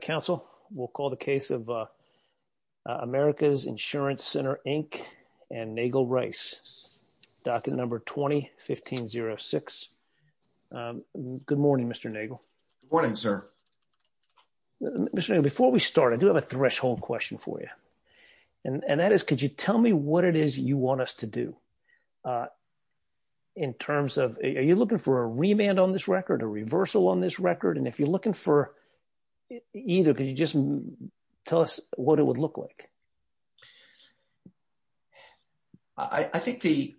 Council, we'll call the case of Americas Insurance Center Inc. and Nagel Rice, docket number 20-1506. Good morning, Mr. Nagel. Good morning, sir. Mr. Nagel, before we start, I do have a threshold question for you, and that is, could you tell me what it is you want us to do in terms of, are you looking for a remand on this record, a reversal on this record? And if you're looking for either, could you just tell us what it would look like? I think the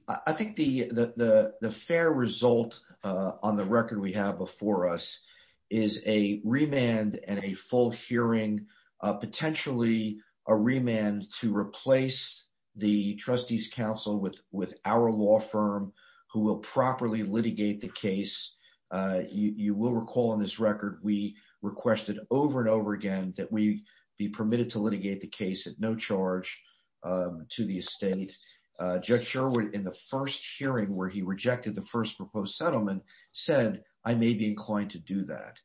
fair result on the record we have before us is a remand and a full hearing, potentially a remand to replace the Trustees Council with our law firm who will properly litigate the case. You will recall on this record, we requested over and over again that we be permitted to litigate the case at no charge to the estate. Jeff Sherwood, in the first hearing where he rejected the first proposed settlement, said, I may be inclined to do that.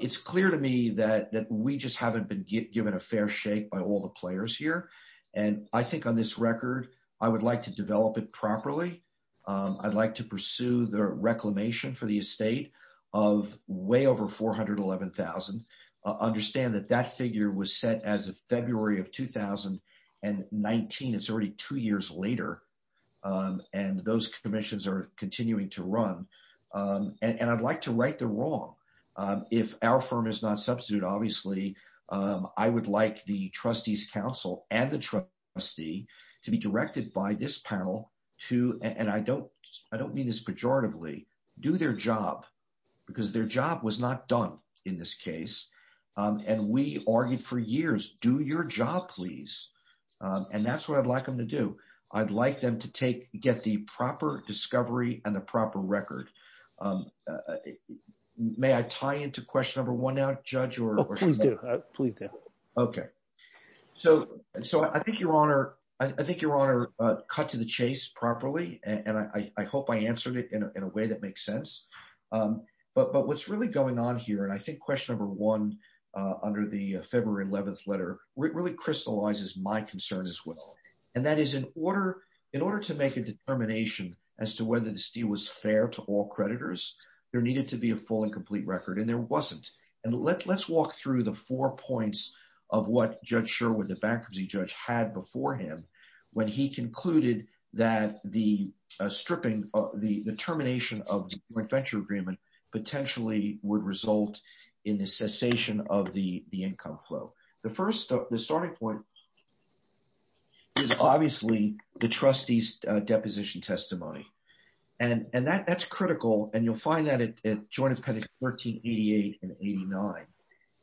It's clear to me that we just haven't been given a fair shake by all the players here, and I think on this reclamation for the estate of way over $411,000, understand that that figure was set as of February of 2019. It's already two years later, and those commissions are continuing to run, and I'd like to right the wrong. If our firm is not substituted, obviously, I would like the Trustees Council and their job, because their job was not done in this case, and we argued for years, do your job, please, and that's what I'd like them to do. I'd like them to get the proper discovery and the proper record. May I tie into question number one now, Judge? Please do. Okay, so I think Your Honor cut to the chase properly, and I hope I answered it in a way that makes sense, but what's really going on here, and I think question number one under the February 11th letter really crystallizes my concerns as well, and that is in order to make a determination as to whether this deal was fair to all creditors, there needed to be a full and complete record, and there wasn't, and let's walk through the four points of what Judge Sherwood, the bankruptcy before him, when he concluded that the stripping, the termination of the joint venture agreement potentially would result in the cessation of the income flow. The first, the starting point is obviously the trustee's deposition testimony, and that's critical, and you'll find that at Joint Appendix 1388 and 89,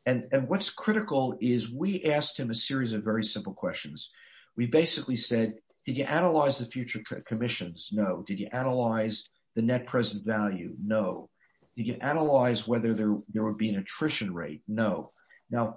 and what's critical is we asked him a series of very simple questions, we basically said, did you analyze the future commissions? No. Did you analyze the net present value? No. Did you analyze whether there would be an attrition rate? No. Now,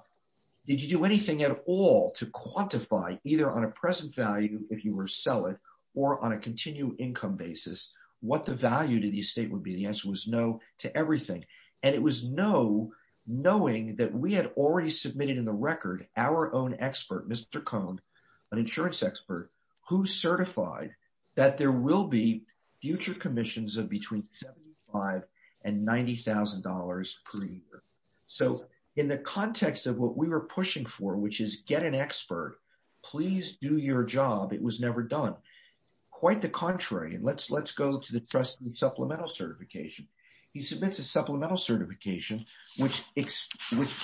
did you do anything at all to quantify either on a present value, if you were to sell it, or on a continual income basis, what the value to the estate would be? The answer was no to everything, and it was no knowing that we had already submitted in the record our own expert, Mr. Cohn, an insurance expert, who certified that there will be future commissions of between $75,000 and $90,000 per year. So, in the context of what we were pushing for, which is get an expert, please do your job, it was never done. Quite the contrary, and let's go to the trustee's supplemental certification. He submits a supplemental certification, which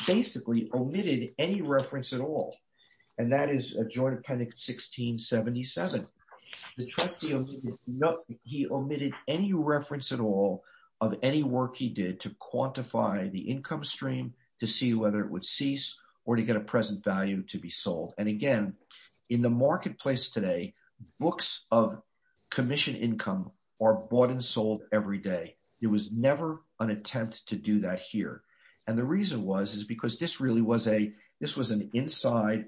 basically omitted any reference at all, and that is a Joint Appendix 1677. The trustee omitted any reference at all of any work he did to quantify the income stream, to see whether it would cease, or to get a present value to be sold. And again, in the marketplace today, books of commission income are bought and sold every day. It was never an attempt to do that here. And the reason was, is because this really was a, this was an inside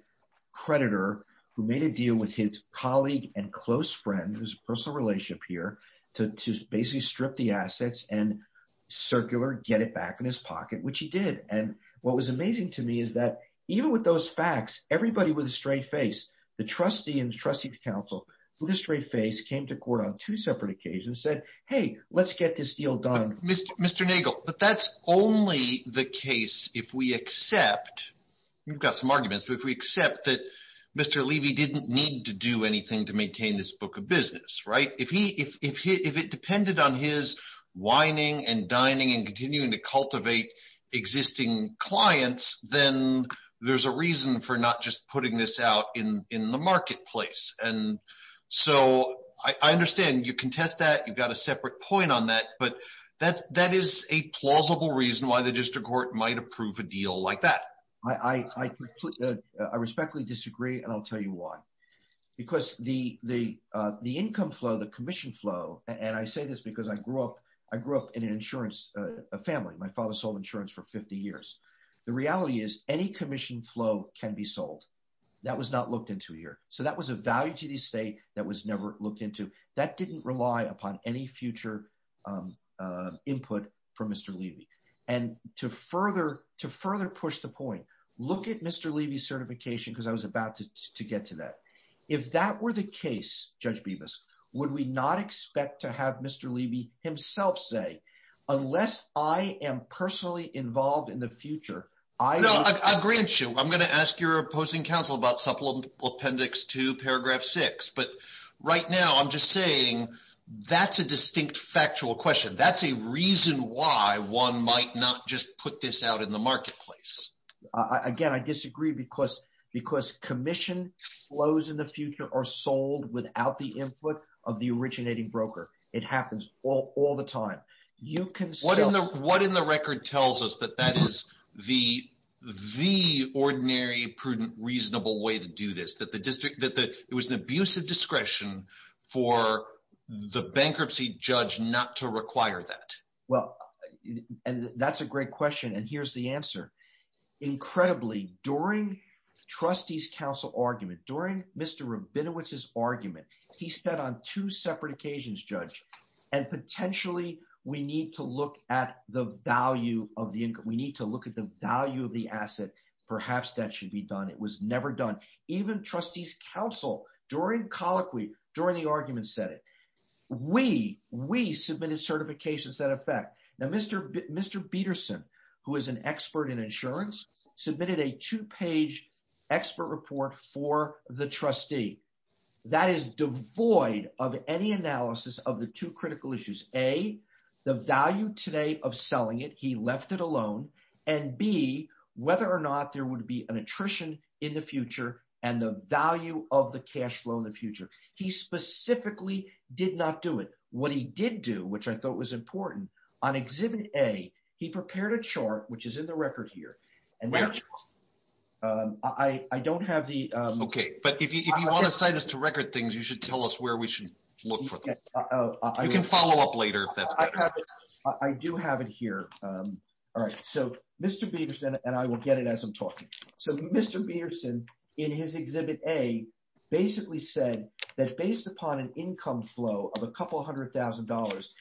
creditor who made a deal with his colleague and close friend, whose personal relationship here, to basically strip the assets and circular, get it back in his pocket, which he did. And what was amazing to me is that, even with those facts, everybody with a straight face, the trustee and trustee counsel, with a straight face, came to court on two separate occasions, said, hey, let's get this deal done. Mr. Nagel, but that's only the case if we accept, we've got some arguments, but if we accept that Mr. Levy didn't need to do anything to maintain this book of business, right? If he, if it depended on his whining and dining and continuing to cultivate existing clients, then there's a reason for not just putting this out in, in the marketplace. And so I understand you contest that you've got a separate point on that, but that, that is a plausible reason why the district court might approve a deal like that. I respectfully disagree. And I'll tell you why. Because the, the, the income flow, the commission flow, and I say this because I grew up, I grew up in an insurance family. My father sold insurance for 50 years. The reality is any commission flow can be sold. That was not looked into here. So that was a value to the state that was never looked into. That didn't rely upon any future input from Mr. Levy. And to further, to further push the point, look at Mr. Levy's certification, because I was about to get to that. If that were the case, Judge Bevis, would we not expect to have Mr. Levy himself say, unless I am personally involved in the future, I know I grant you, I'm going to ask your opposing counsel about supplemental appendix to paragraph six, but right now I'm just saying that's a distinct factual question. That's a reason why one might not just put this out in the marketplace. Again, I disagree because, because commission flows in the future are sold without the input of the originating broker. It happens all the time. What in the record tells us that that is the ordinary, prudent, reasonable way to do this? That it was an abusive discretion for the bankruptcy judge not to require that? Well, and that's a great question. And here's the answer. Incredibly, during trustee's counsel argument, during Mr. Rabinowitz's argument, he said on two separate occasions, Judge, and potentially we need to look at the value of the income. We need to look at the value of the asset. Perhaps that should be done. It was never done. Even trustee's counsel during colloquy, during the argument said it. We, we submitted certifications that affect. Now, Mr. Peterson, who is an expert in insurance, submitted a two-page expert report for the trustee. That is devoid of any analysis of the two critical issues. A, the value today of selling it. He left it alone. And B, whether or not there would be an attrition in the future and the value of the cash flow in the future. He specifically did not do it. What he did do, which I thought was important, on exhibit A, he prepared a chart, which is in the record here, and I don't have the. Okay. But if you want to assign us to record things, you should tell us where we should look for them. You can follow up later. I do have it here. All right. So, Mr. Peterson, and I will get it as I'm talking. So, Mr. Peterson, in his exhibit A, basically said that based upon an income flow of a couple hundred thousand dollars,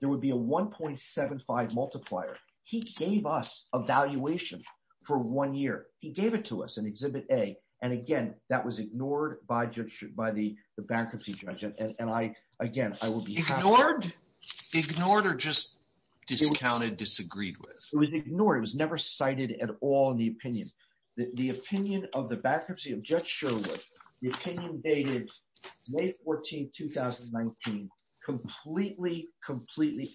there would be a 1.75 multiplier. He gave us a valuation for one year. He gave it to us in exhibit A. And again, that was ignored by the bankruptcy judge. And I, again, I will be. Ignored? Ignored or just discounted, disagreed with? It was ignored. It was never cited at all in the opinion. The opinion of the bankruptcy completely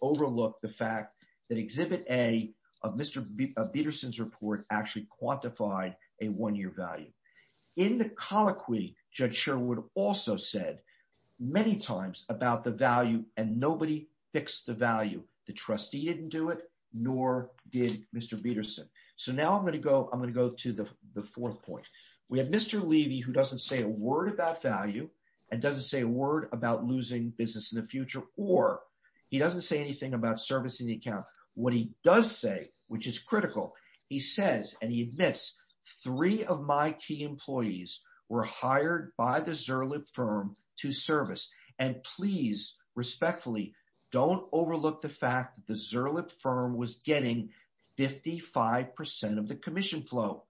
overlooked the fact that exhibit A of Mr. Peterson's report actually quantified a one-year value. In the colloquy, Judge Sherwood also said many times about the value and nobody fixed the value. The trustee didn't do it, nor did Mr. Peterson. So, now I'm going to go, I'm going to go to the fourth point. We have Mr. Levy, who doesn't say a word about value and doesn't say a word about losing business in the future, or he doesn't say anything about servicing the account. What he does say, which is critical, he says, and he admits, three of my key employees were hired by the Zerlet firm to service. And please, respectfully, don't overlook the fact that the Zerlet firm was getting 55% of the commission flow.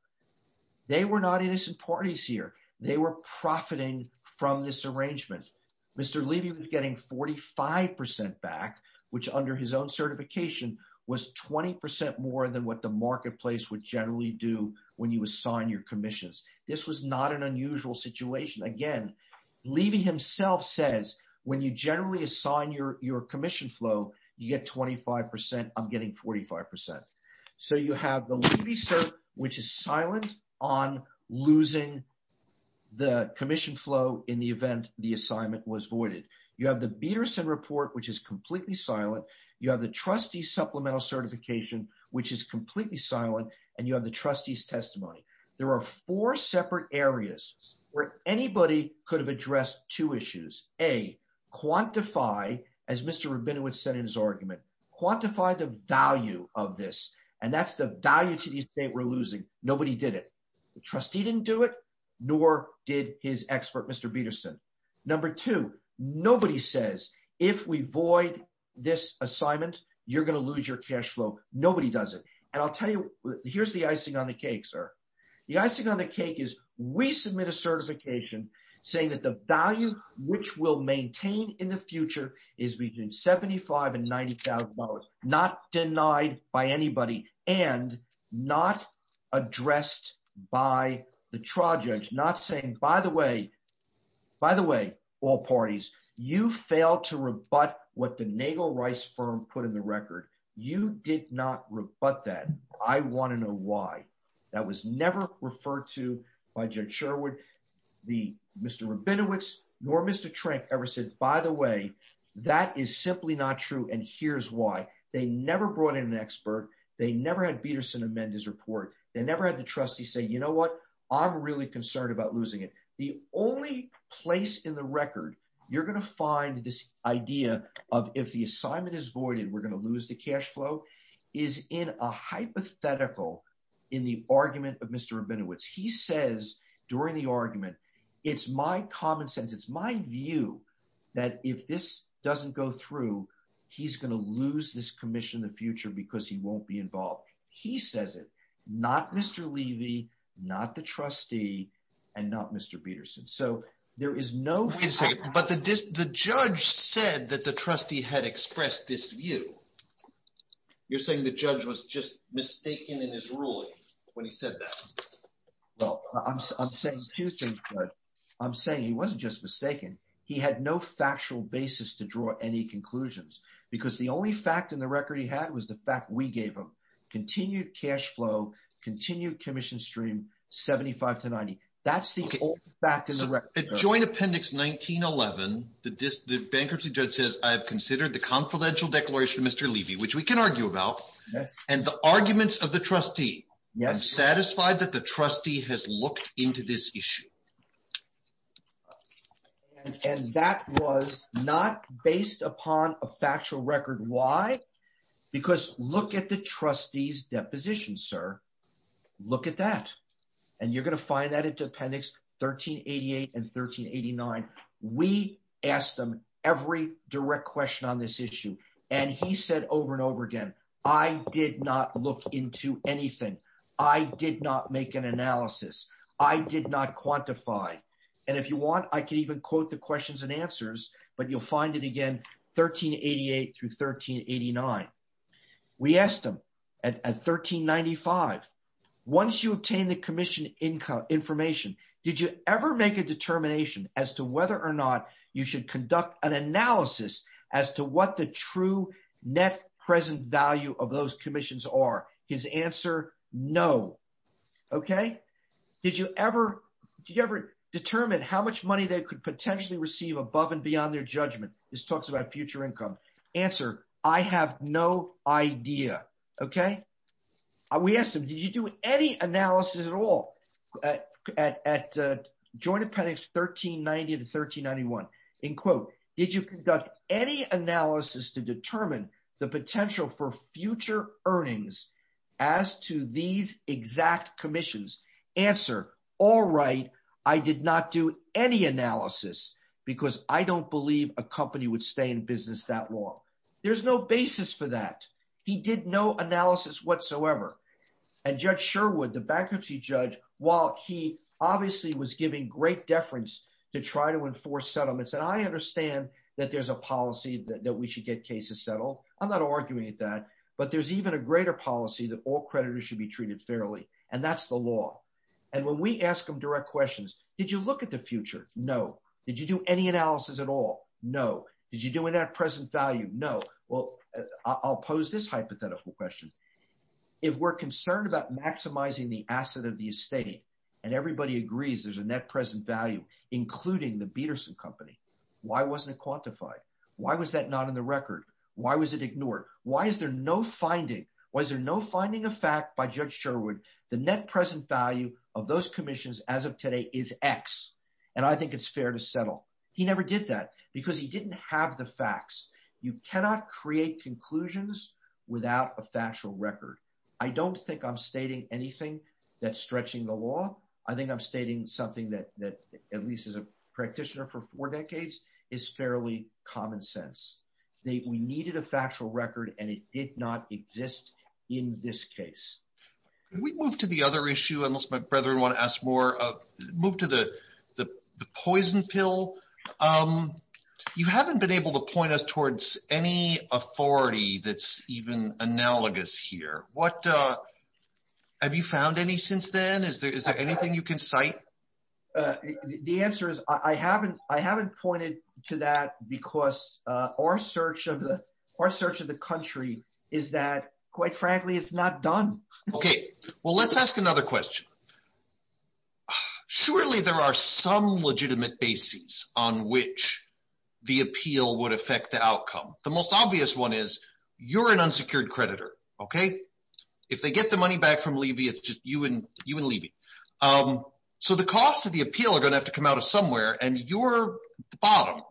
They were not innocent parties here. They were profiting from this arrangement. Mr. Levy was getting 45% back, which under his own certification was 20% more than what the marketplace would generally do when you assign your commissions. This was not an unusual situation. Again, Levy himself says, when you generally assign your commission flow, you get 25%, I'm getting 45%. So, you have the Levy cert, which is silent on losing the commission flow in the event the assignment was voided. You have the Peterson report, which is completely silent. You have the trustee supplemental certification, which is completely silent. And you have the trustee's testimony. There are four separate areas where anybody could have addressed two issues. A, quantify, as Mr. Rabinowitz said in his argument, quantify the value of this. And that's the value to the estate we're losing. Nobody did it. The trustee didn't do it, nor did his expert, Mr. Peterson. Number two, nobody says, if we void this assignment, you're going to lose your cash flow. Nobody does it. And I'll tell you, here's the icing on the cake, sir. The icing on the cake is, we submit a certification saying that the value, which we'll maintain in the future, is between $75,000 and $90,000. Not denied by anybody and not addressed by the trial judge. Not saying, by the way, all parties, you failed to rebut what the Naval Rice firm put in the record. You did not rebut that. I want to know why. That was never referred to by Judge Sherwood, the Mr. Rabinowitz, nor Mr. Trent ever said, by the way, that is simply not true. And here's why. They never brought in an expert. They never had Peterson amend his report. They never had the trustee say, you know what? I'm really concerned about losing it. The only place in record you're going to find this idea of if the assignment is voided, we're going to lose the cash flow is in a hypothetical in the argument of Mr. Rabinowitz. He says during the argument, it's my common sense. It's my view that if this doesn't go through, he's going to lose this commission in the future because he won't be involved. He says it, not Mr. Levy, not the but the judge said that the trustee had expressed this view. You're saying the judge was just mistaken in his ruling when he said that? Well, I'm saying he wasn't just mistaken. He had no factual basis to draw any conclusions because the only fact in the record he had was the fact we gave him continued cash flow, continued commission stream, 75 to 90. That's the only fact in the record. The joint appendix 1911, the bankruptcy judge says I've considered the confidential declaration of Mr. Levy, which we can argue about, and the arguments of the trustee. Yes. Satisfied that the trustee has looked into this issue. And that was not based upon a factual record. Why? Because look at the trustee's deposition, sir. Look at that. And you're going to find that in appendix 1388 and 1389. We asked them every direct question on this issue. And he said over and over again, I did not look into anything. I did not make an analysis. I did not quantify. And if you want, I can even quote the questions and answers, but you'll find it again, 1388 through 1389. We asked him at 1395, once you obtain the commission information, did you ever make a determination as to whether or not you should conduct an analysis as to what the true net present value of those commissions are? His answer, no. Okay. Did you ever determine how much money they could potentially receive above and beyond their judgment? This talks about future income. Answer, I have no idea. Okay. We asked him, did you do any analysis at all at joint appendix 1390 to 1391? In quote, did you conduct any analysis to determine the potential for future earnings as to these exact commissions? Answer, all right. I did not do any analysis because I don't believe a company would stay in business that long. There's no basis for that. He did no analysis whatsoever. And judge Sherwood, the bankruptcy judge, while he obviously was giving great deference to try to enforce settlements. And I understand that there's a policy that we should get cases settled. I'm not arguing that, but there's even a greater policy that all creditors should be treated fairly. And that's the law. And when we ask them direct questions, did you look at the future? No. Did you do any analysis at all? No. Did you do in that present value? No. Well, I'll pose this hypothetical question. If we're concerned about maximizing the asset of the estate and everybody agrees there's a net present value, including the Bederson company, why wasn't it quantified? Why was that not in the record? Why was it ignored? Why is there no finding? Was there no finding of fact by judge Sherwood, the net present value of those commissions as of today is X. And I think it's fair to settle. He never did that because he didn't have the facts. You cannot create conclusions without a factual record. I don't think I'm stating anything that's stretching the law. I think I'm stating something that at least as a practitioner for four decades is fairly common sense. We needed a factual record and it did not exist in this case. We move to the other issue, unless my brethren want to ask more. Move to the poison pill. You haven't been able to point us towards any authority that's even analogous here. Have you found any since then? Is there anything you can cite? The answer is I haven't pointed to that because our search of the country is that quite frankly, it's not done. Let's ask another question. Surely there are some legitimate basis on which the appeal would affect the outcome. The most obvious one is you're an unsecured creditor. If they get the money back from Levy, it's just you and Levy. The cost of the appeal are going to have to come out of somewhere and you're bottom.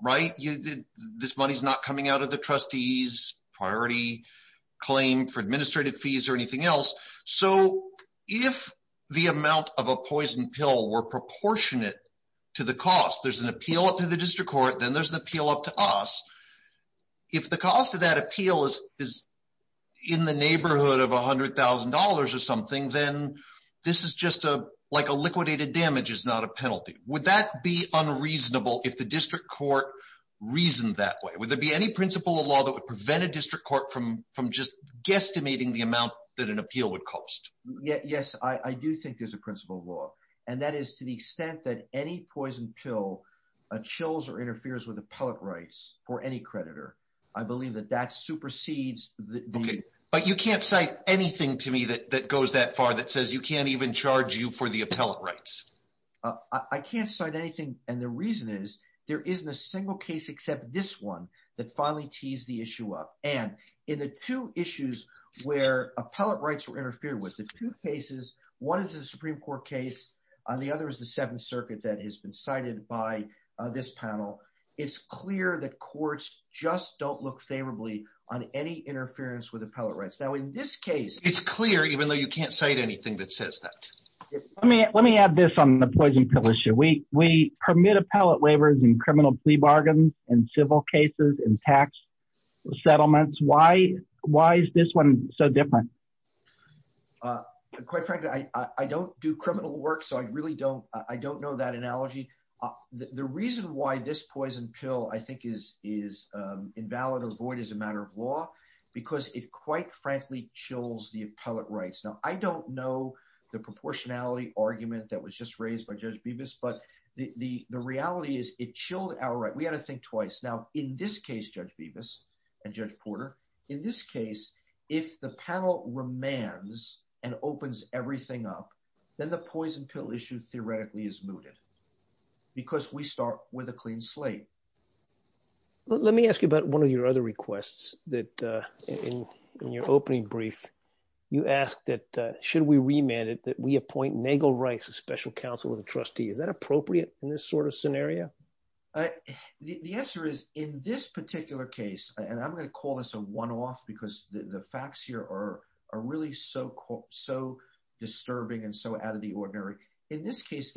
This money is not coming out of the trustee's priority claim for administrative fees or anything else. If the amount of a poison pill were proportionate to the cost, there's an appeal up to the district court, then there's an appeal up to us. If the cost of that appeal is in the neighborhood of $100,000 or something, then this is just like liquidated damage is not a penalty. Would that be unreasonable if the district court reasoned that way? Would there be any principle of law that would prevent a district court from guesstimating the amount that an appeal would cost? Yes, I do think there's a principle of law. That is to the extent that any poison pill chills or interferes with appellate rights for any creditor, I believe that that supersedes- You can't cite anything to me that goes that far that says you can't even charge you for the appellate rights. I can't cite anything and the reason is there isn't a single case except this one that finally teased the issue up. And in the two issues where appellate rights were interfered with, the two cases, one is a Supreme Court case and the other is the Seventh Circuit that has been cited by this panel. It's clear that courts just don't look favorably on any interference with appellate rights. Now in this case- It's clear even though you can't cite anything that says that. Let me add this on the poison pill issue. We permit appellate waivers and criminal plea bargains in civil cases and tax settlements. Why is this one so different? Quite frankly, I don't do criminal work so I really don't know that analogy. The reason why this poison pill I think is invalid or void as a matter of law because it quite frankly chills the appellate rights. Now I don't know the proportionality argument that was just raised by Judge Bevis but the reality is it chilled our right. We had to think twice. Now in this case, Judge Bevis and Judge Porter, in this case if the panel remands and opens everything up, then the poison pill issue theoretically is mooted because we start with a clean slate. Let me ask you about one of your other requests that in your opening brief, you asked that should we remand it that we appoint Megil Rice a special counsel and trustee. Is that appropriate in this sort of scenario? The answer is in this particular case and I'm going to call this a one-off because the facts here are really so disturbing and so out of the ordinary. In this he is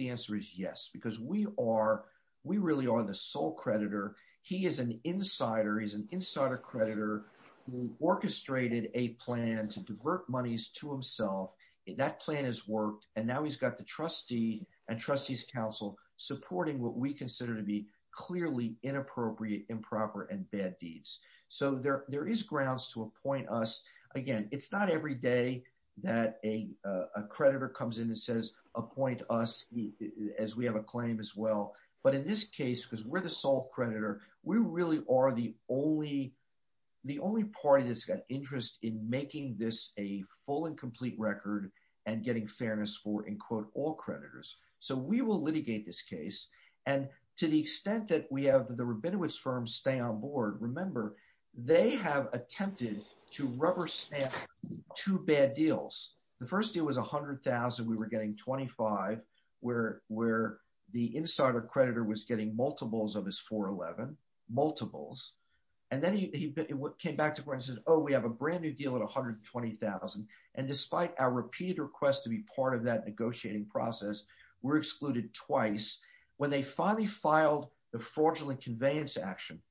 an insider, he's an insider creditor who orchestrated a plan to divert monies to himself. That plan has worked and now he's got the trustee and trustees counsel supporting what we consider to be clearly inappropriate, improper, and bad deeds. So there is grounds to appoint us. Again, it's not every day that a creditor comes in and says appoint us as we have a claim as well. But in this case because we're the sole creditor, we really are the only party that's got interest in making this a full and complete record and getting fairness for all creditors. So we will litigate this case and to the extent that we have the Rabinowitz firm stay on board, remember they have attempted to rubber stamp two bad deals. The first deal was $100,000, we were getting $25,000 where the insider creditor was getting multiples of his $411,000, multiples. And then he came back to where he said, oh we have a brand new deal at $120,000 and despite our repeated request to be part of that negotiating process, we're excluded twice. When they finally filed the fraudulent conveyance action,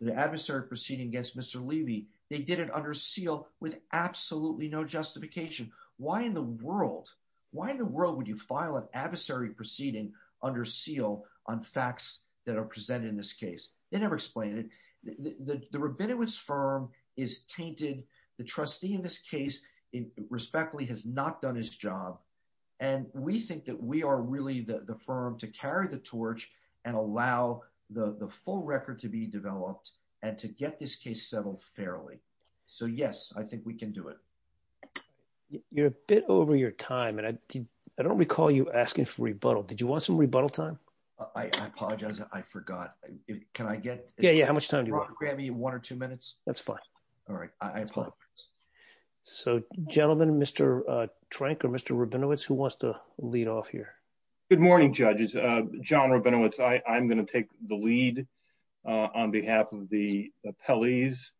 the adversary proceeding against Mr. Levy, they did it under seal with under seal on facts that are presented in this case. They never explained it. The Rabinowitz firm is tainted. The trustee in this case respectfully has not done his job. And we think that we are really the firm to carry the torch and allow the full record to be developed and to get this case settled fairly. So yes, I think we can do it. You're a bit over your time and I don't recall you asking for rebuttal. Did you want some rebuttal time? I apologize. I forgot. Can I get- Yeah, yeah. How much time do you want? Grab me one or two minutes. That's fine. All right. So gentlemen, Mr. Trank or Mr. Rabinowitz, who wants to lead off here? Good morning, judges. John Rabinowitz. I'm going to take the lead on behalf of the appellees.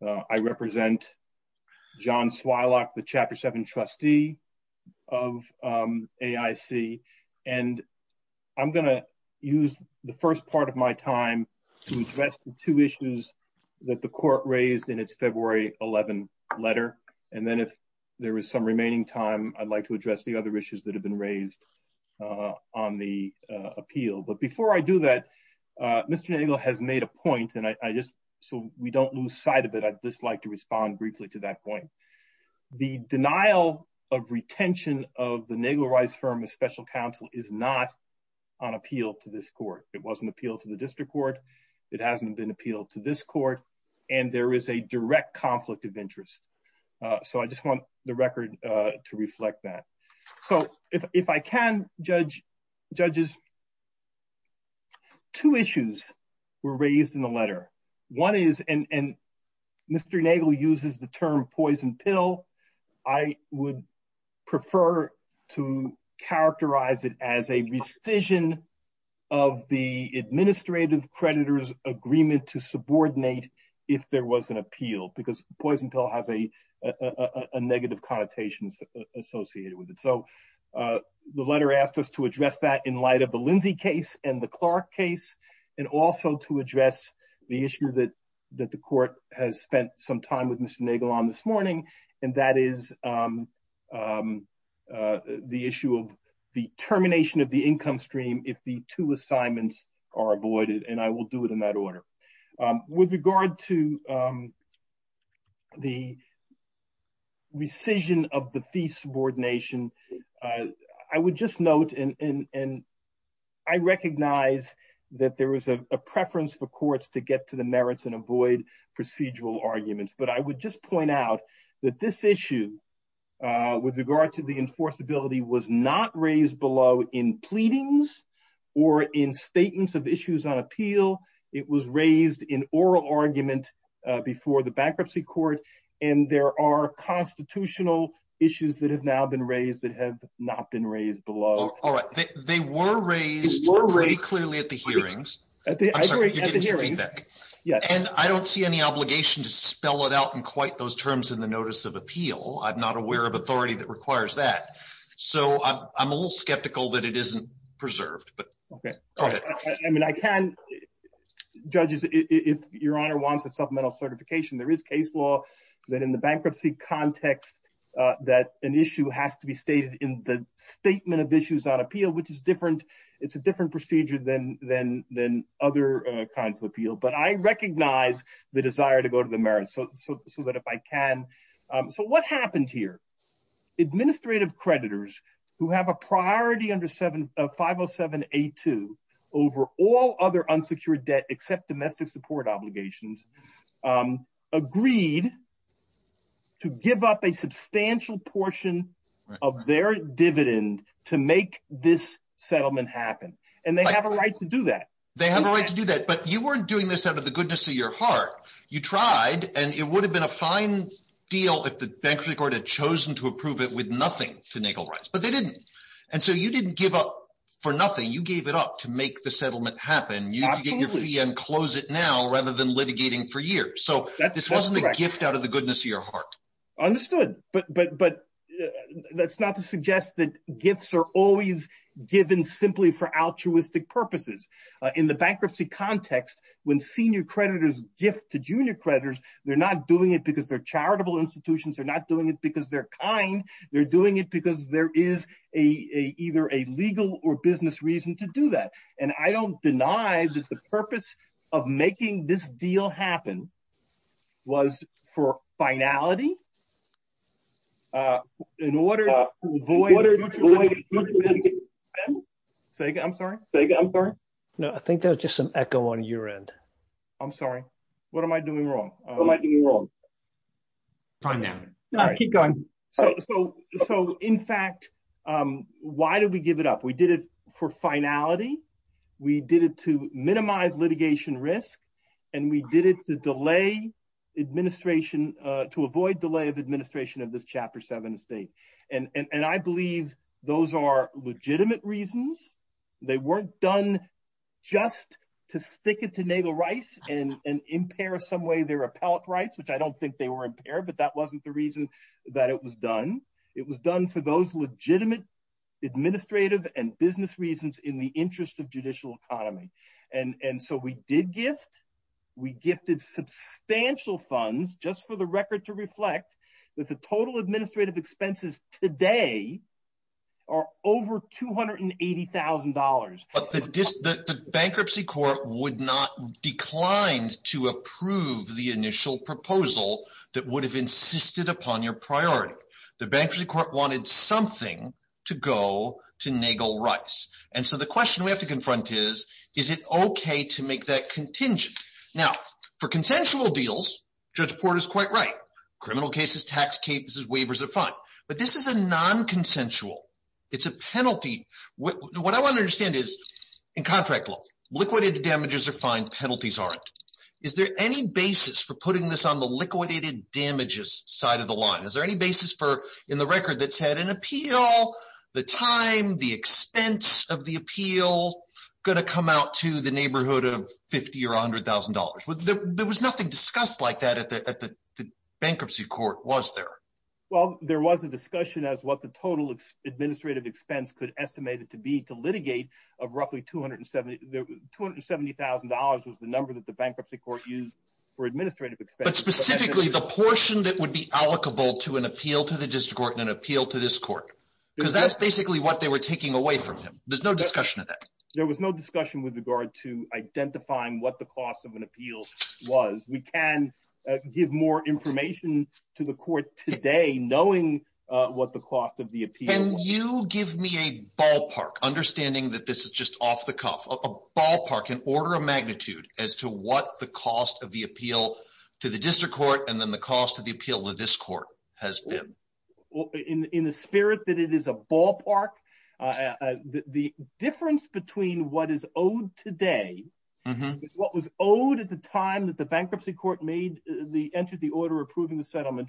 I represent John Swilock, the chapter seven trustee of AIC. And I'm going to use the first part of my time to address the two issues that the court raised in its February 11 letter. And then if there was some remaining time, I'd like to address the has made a point and I just, so we don't lose sight of it. I'd just like to respond briefly to that point. The denial of retention of the Naval Rights Firm of Special Counsel is not on appeal to this court. It wasn't appealed to the district court. It hasn't been appealed to this court and there is a direct conflict of interest. So I just want the record to reflect that. So if I can judge judges, two issues were raised in the letter. One is, and Mr. Nagle uses the term poison pill. I would prefer to characterize it as a revision of the administrative creditors agreement to subordinate if there was an appeal because poison pill has a negative connotation associated with it. So the letter asked us to address that in light of the Lindsay case and the Clark case, and also to address the issue that the court has spent some time with Mr. Nagle on this morning. And that is the issue of the termination of the income stream if the two subordination. I would just note, and I recognize that there is a preference for courts to get to the merits and avoid procedural arguments. But I would just point out that this issue with regard to the enforceability was not raised below in pleadings or in statements of issues on appeal. It was raised in oral argument before the bankruptcy court and there are constitutional issues that have now been raised that have not been raised below. All right. They were raised very clearly at the hearings. And I don't see any obligation to spell it out in quite those terms in the notice of appeal. I'm not aware of authority that requires that. So I'm a little skeptical that it isn't preserved. Okay. I mean, I can, judges, if your honor wants a supplemental certification, there is case law that in the bankruptcy context that an issue has to be stated in the statement of issues on appeal, which is different. It's a different procedure than other kinds of appeal. But I recognize the desire to go to the merits. So that if I can. So what happened here? Administrative creditors who have a priority under 507A2 over all other unsecured debt except domestic support obligations agreed to give up a substantial portion of their dividend to make this settlement happen. And they have a right to do that. They have a right to do that. But you weren't doing this out of the goodness of your heart. You tried and it would have been a fine deal if the bankruptcy had chosen to approve it with nothing to Nagel rights, but they didn't. And so you didn't give up for nothing. You gave it up to make the settlement happen. You get your fee and close it now rather than litigating for years. So this wasn't a gift out of the goodness of your heart. Understood. But that's not to suggest that gifts are always given simply for altruistic purposes. In the bankruptcy context, when senior creditors gift to junior creditors, they're not doing it because they're charitable institutions. They're not doing it because they're kind. They're doing it because there is a either a legal or business reason to do that. And I don't deny that the purpose of making this deal happen was for finality. I'm sorry. I think that was just an echo on your end. I'm sorry. What am I doing wrong? Time now. No, keep going. So in fact, why did we give it up? We did it for finality. We did it to minimize litigation risk. And we did it to delay administration, to avoid delay of administration of this chapter seven fee. And I believe those are legitimate reasons. They weren't done just to stick it to Nagel rights and impair some way their appellate rights, I don't think they were impaired, but that wasn't the reason that it was done. It was done for those legitimate administrative and business reasons in the interest of judicial economy. And so we did gift. We gifted substantial funds just for the record to reflect that the total administrative expenses today are over two hundred and eighty thousand dollars. But the bankruptcy court would declined to approve the initial proposal that would have insisted upon your priority. The bankruptcy court wanted something to go to Nagel rights. And so the question we have to confront is, is it OK to make that contingent? Now, for consensual deals, Judge Porter is quite right. Criminal cases, tax cases, waivers of funds. But this is a non consensual. It's a penalty. What I want to understand is in contract law, liquidated damages are fine, penalties aren't. Is there any basis for putting this on the liquidated damages side of the line? Is there any basis for in the record that's had an appeal, the time, the expense of the appeal going to come out to the neighborhood of 50 or 100 thousand dollars? There was nothing discussed like that at the bankruptcy court, was there? Well, there was a discussion as what the total administrative expense could estimate it to be to litigate of roughly two hundred and seventy thousand dollars was the number that the bankruptcy court used for administrative expense. Specifically, the portion that would be allocable to an appeal to the district court and an appeal to this court, because that's basically what they were taking away from them. There's no discussion of that. There was no discussion with regard to identifying what the cost of an appeal was. We can give more information to the court today knowing what the cost of the appeal. Can you give me a ballpark, understanding that this is just off the cuff, a ballpark, an order of magnitude as to what the cost of the appeal to the district court and then the cost of the appeal to this court has been? In the spirit that it is a ballpark, the difference between what is owed today, what was owed at the time that the bankruptcy court made the entity order approving the settlement,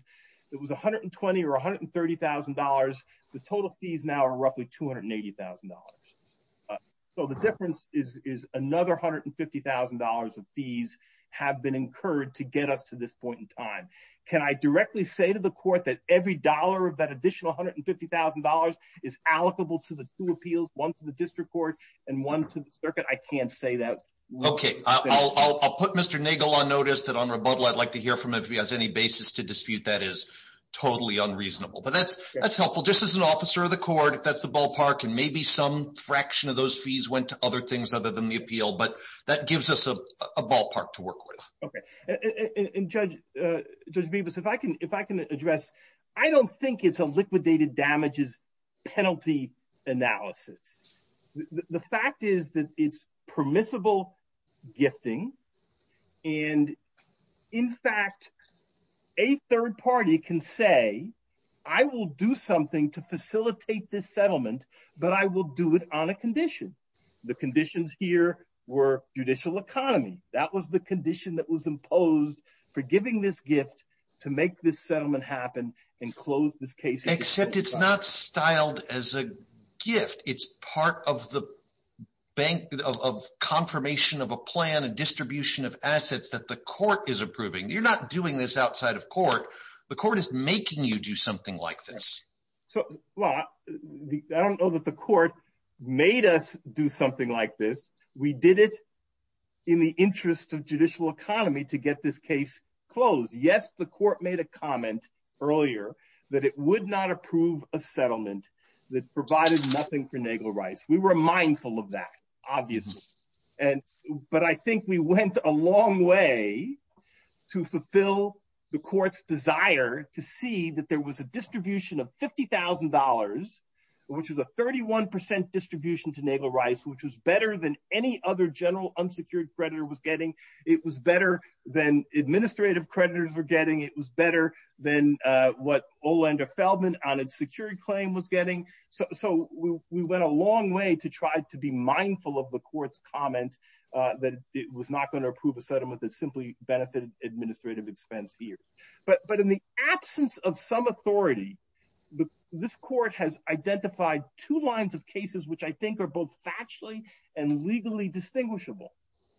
it was one hundred and twenty or one hundred and thirty thousand dollars. The total fees now are roughly two hundred and eighty thousand dollars. So the difference is another one hundred and fifty thousand dollars of fees have been incurred to get up to this point in time. Can I directly say to the court that every dollar of that additional one hundred and fifty thousand dollars is allocable to the two appeals, one to the district court and one to the circuit? I can't say that. OK, I'll put Mr. Nagle on notice on rebuttal. I'd like to hear from him if he has any basis to dispute that is totally unreasonable. But that's helpful just as an officer of the court. That's the ballpark. And maybe some fraction of those fees went to other things other than the appeal. But that gives us a ballpark to work with. OK. And Judge Bevis, if I can address, I don't think it's a liquidated damages penalty analysis. The fact is that it's permissible gifting. And in fact, a third party can say, I will do something to facilitate this settlement, but I will do it on a condition. The conditions here were judicial economy. That was the condition that was imposed for giving this gift to make this settlement happen and close this case. Except it's not styled as a gift. It's part of the bank of confirmation of a plan and distribution of assets that the court is approving. You're not doing this outside of court. The court is making you do something like this. So I don't know that the court made us do something like this. We did it in the interest of judicial economy to get this case closed. Yes, the court made a comment earlier that it would not approve a settlement that provided nothing for Nagler-Rice. We were mindful of that, obviously. But I think we went a long way to fulfill the court's desire to see that there was a distribution of $50,000, which is a 31% distribution to Nagler-Rice, which was better than any other general unsecured creditor was getting. It was better than administrative creditors were getting. It was better than what Olander Feldman on a security claim was getting. So we went a long way to try to be mindful of the court's comments that it was not going to approve a settlement that simply benefited administrative expense here. But in the absence of some authority, this court has identified two lines of cases which I think are both factually and legally distinguishable.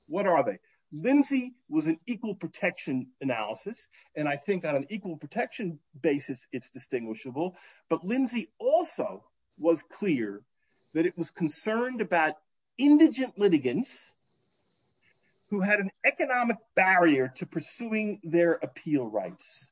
What are they? Lindsay was an equal protection analysis, and I think on an equal protection basis it's distinguishable. But Lindsay also was clear that it was concerned about indigent litigants who had an economic barrier to pursuing their appeal rights.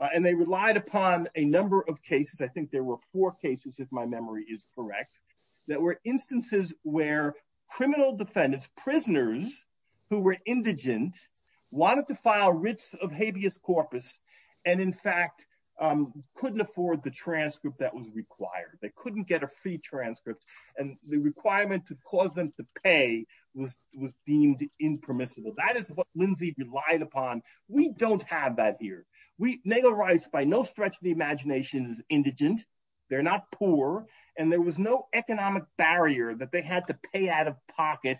And they relied upon a number of cases. I think there were four cases, if my memory is correct, that were instances where criminal defendants, prisoners who were indigent, wanted to file writs of habeas corpus and, in fact, couldn't afford the transcript that was required. They couldn't get a free transcript, and the requirement to cause them to pay was deemed impermissible. That is what Lindsay relied upon. We don't have that here. Nagler-Rice, by no stretch of the imagination, is indigent. They're not poor. And there was no economic barrier that they had to pay out of pocket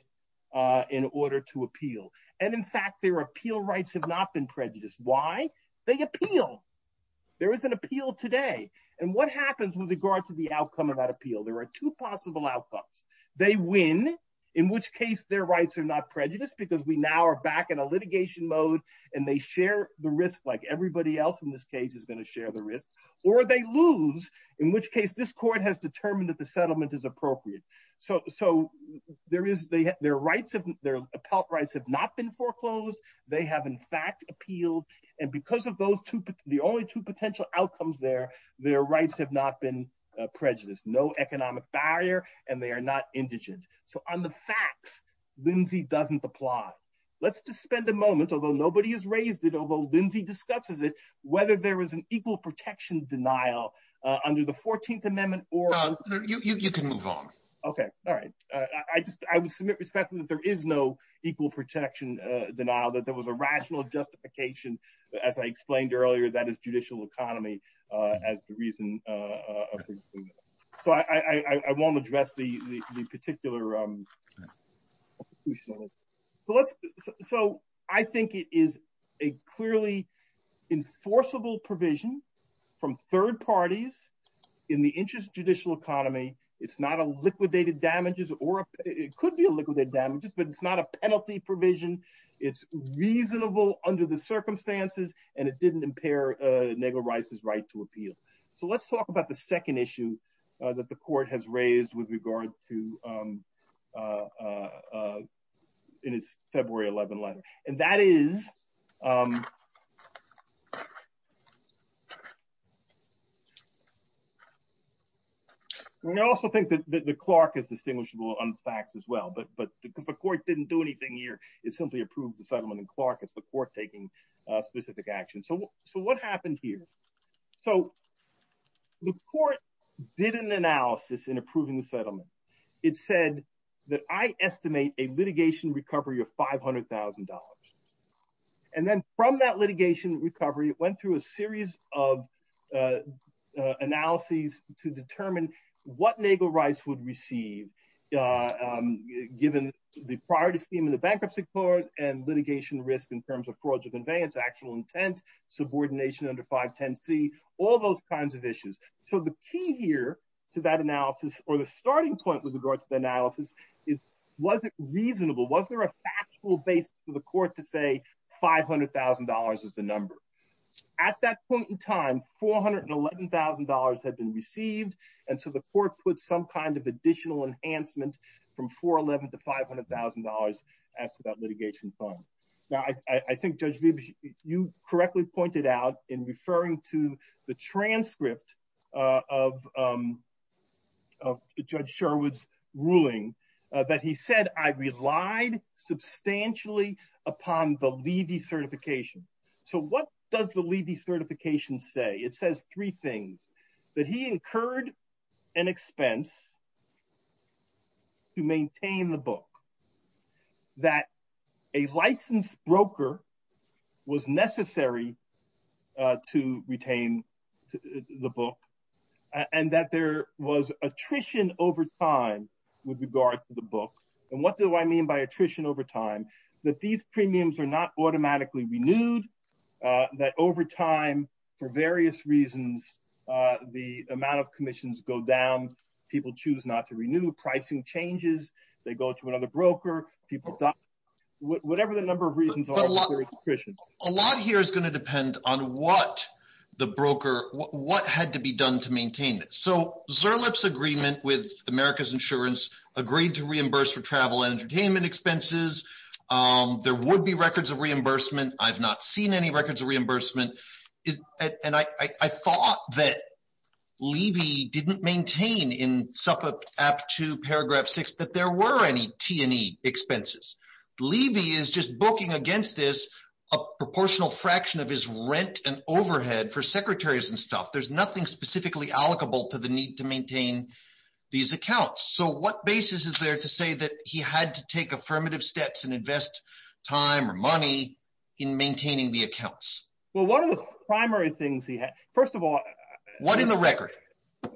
in order to appeal. And, in fact, their appeal rights have not been prejudiced. Why? They appealed. There is an appeal today. And what happens with regard to the outcome of that appeal? There are two possible outcomes. They win, in which case their rights are not prejudiced because we now are back in a litigation mode and they share the risk like everybody else in this case is going to share the risk. Or they lose, in which case this court has determined that the settlement is appropriate. So their rights, their appellate rights, have not been foreclosed. They have, in fact, appealed. And because of the only two potential outcomes there, their rights have not been prejudiced, no economic barrier, and they are not indigent. So on the facts, Lindsay doesn't apply. Let's just spend a moment, although nobody has raised it, although Lindsay discusses it, whether there was an equal protection denial under the 14th Amendment or— No, you can move on. Okay. All right. I would submit respectfully that there is no equal protection denial, that there was a rational justification. As I explained earlier, that is judicial economy as the reason. So I won't address the particular—so I think it is a clearly enforceable provision from third parties in the interest judicial economy. It's not a liquidated damages or it could be a liquidated damages, but it's not a penalty provision. It's reasonable under the circumstances and it didn't impair Negro rights as rights to appeal. So let's talk about the second issue that the court has raised with regards to—in its February 11th letter. And that is—I also think that the Clark is distinguishable on facts as well, but the court didn't do anything here. It simply approved the settlement in Clark. It's the court taking specific action. So what happened here? So the court did an analysis in approving the settlement. It said that I estimate a litigation recovery of $500,000. And then from that litigation recovery, it went through a series of analyses to determine what Negro rights would receive, given the priority scheme in the bankruptcy court and litigation risk in terms of fraudulent conveyance, actual intent, subordination under 510C, all those kinds of issues. So the key here to that analysis or the starting point with regards to the analysis is was it reasonable? Was there a factual basis for the court to say $500,000 is the number? At that point in time, $411,000 had been received. And so the court put some kind of additional enhancement from $411,000 to $500,000 after that litigation fund. Now, I think Judge Wiebes, you correctly pointed out in referring to the transcript of Judge Sherwood's ruling that he said, I relied substantially upon the levy certification. So what does the levy certification say? It says three things, that he incurred an expense to maintain the book, that a licensed broker was necessary to retain the book, and that there was attrition over time with regards to the book. And what do I mean by attrition over time? That these premiums are not automatically renewed, that over time, for various reasons, the amount of commissions go down, people choose not to renew, pricing changes, they go to another broker, people die, whatever the number of reasons are for attrition. A lot here is going to depend on what the broker, what had to be done to maintain it. So Zurluch's agreement with America's Insurance agreed to reimburse for travel and entertainment expenses. There would be records of reimbursement. I've not seen any records of reimbursement. And I thought that levy didn't maintain in SEPA Act 2, paragraph 6, that there were any T&E expenses. Levy is just booking against this a proportional fraction of his rent and overhead for secretaries and stuff. There's nothing specifically allocable to the need to maintain these accounts. So what basis is there to say that he had to take affirmative steps and invest time or money in maintaining the accounts? Well, one of the primary things he had, first of all... was an allocation formula. So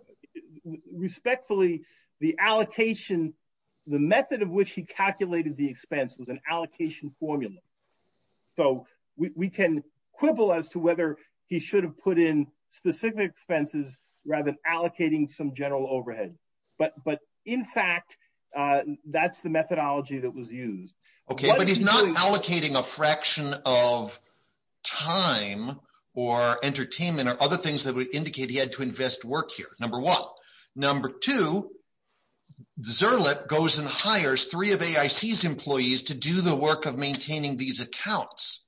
we can quibble as to whether he should have put in specific expenses rather than allocating some general overhead. But in fact, that's the methodology that was used. Okay, but he's not allocating a fraction of time or entertainment or other things that would to do the work of maintaining these accounts.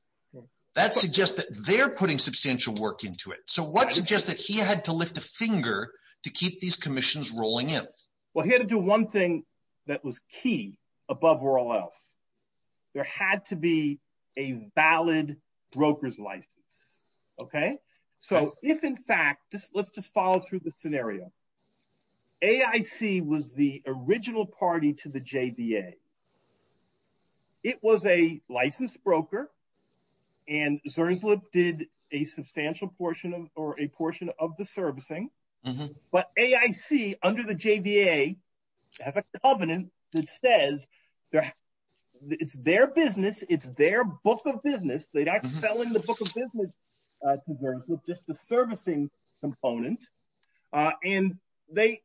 That suggests that they're putting substantial work into it. So what suggests that he had to lift a finger to keep these commissions rolling in? Well, he had to do one thing that was key above all else. There had to be a valid broker's license. Okay? So if in fact... let's just follow through the scenario. AIC was the original party to the book of business. It was a licensed broker. And Zurslip did a substantial portion of the servicing. But AIC, under the JDA, have a covenant that says it's their business. It's their book of business. They're not selling the book of business to Zurslip, just the servicing component. And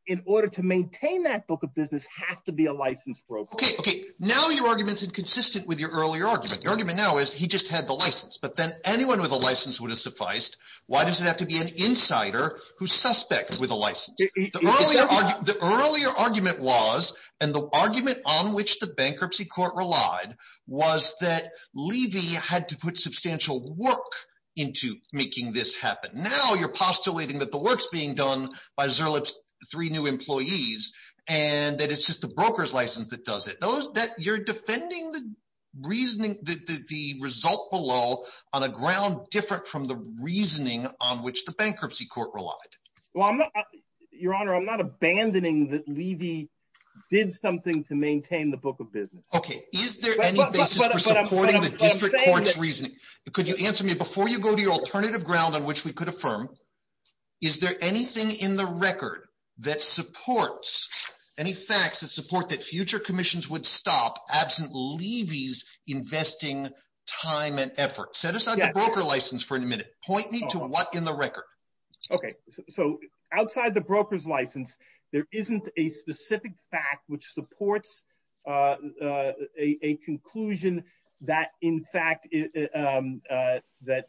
in order to maintain that book of business has to be a licensed broker. Okay. Now your argument is inconsistent with your earlier argument. The argument now is he just had the license, but then anyone with a license would have sufficed. Why does it have to be an insider who suspects with a license? The earlier argument was, and the argument on which the bankruptcy court relied, was that Levy had to put substantial work into making this happen. Now you're postulating that the work's being done by Zurslip's three new employees, and that it's just a broker's license that does it. You're defending the reasoning, the result below, on a ground different from the reasoning on which the bankruptcy court relied. Well, your honor, I'm not abandoning that Levy did something to maintain the book of business. Okay. Is there any basis for supporting the different court's reasoning? Could you answer me before you go to alternative ground on which we could affirm? Is there anything in the record that supports, any facts that support that future commissions would stop absent Levy's investing time and effort? Set aside the broker license for a minute. Point me to what in the record. Okay. So outside the broker's license, there isn't a specific fact which supports a conclusion that, in fact, that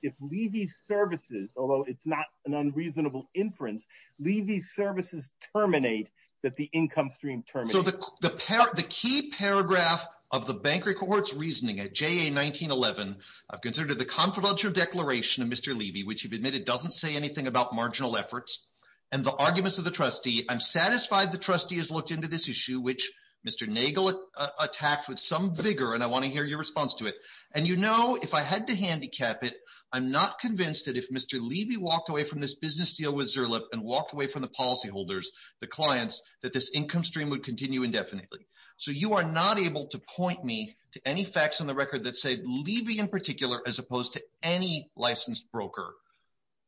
if Levy's services, although it's not an unreasonable inference, Levy's services terminate, that the income stream terminates. So the key paragraph of the bankruptcy court's reasoning at JA 1911, I've considered the confidential declaration of Mr. Levy, which admitted doesn't say anything about marginal efforts, and the arguments of trustee. I'm satisfied the trustee has looked into this issue, which Mr. Nagel attacked with some vigor, and I want to hear your response to it. And you know, if I had to handicap it, I'm not convinced that if Mr. Levy walked away from this business deal with Zurliff and walked away from the policyholders, the clients, that this income stream would continue indefinitely. So you are not able to point me to any facts on the record that say Levy in particular, as opposed to any licensed broker,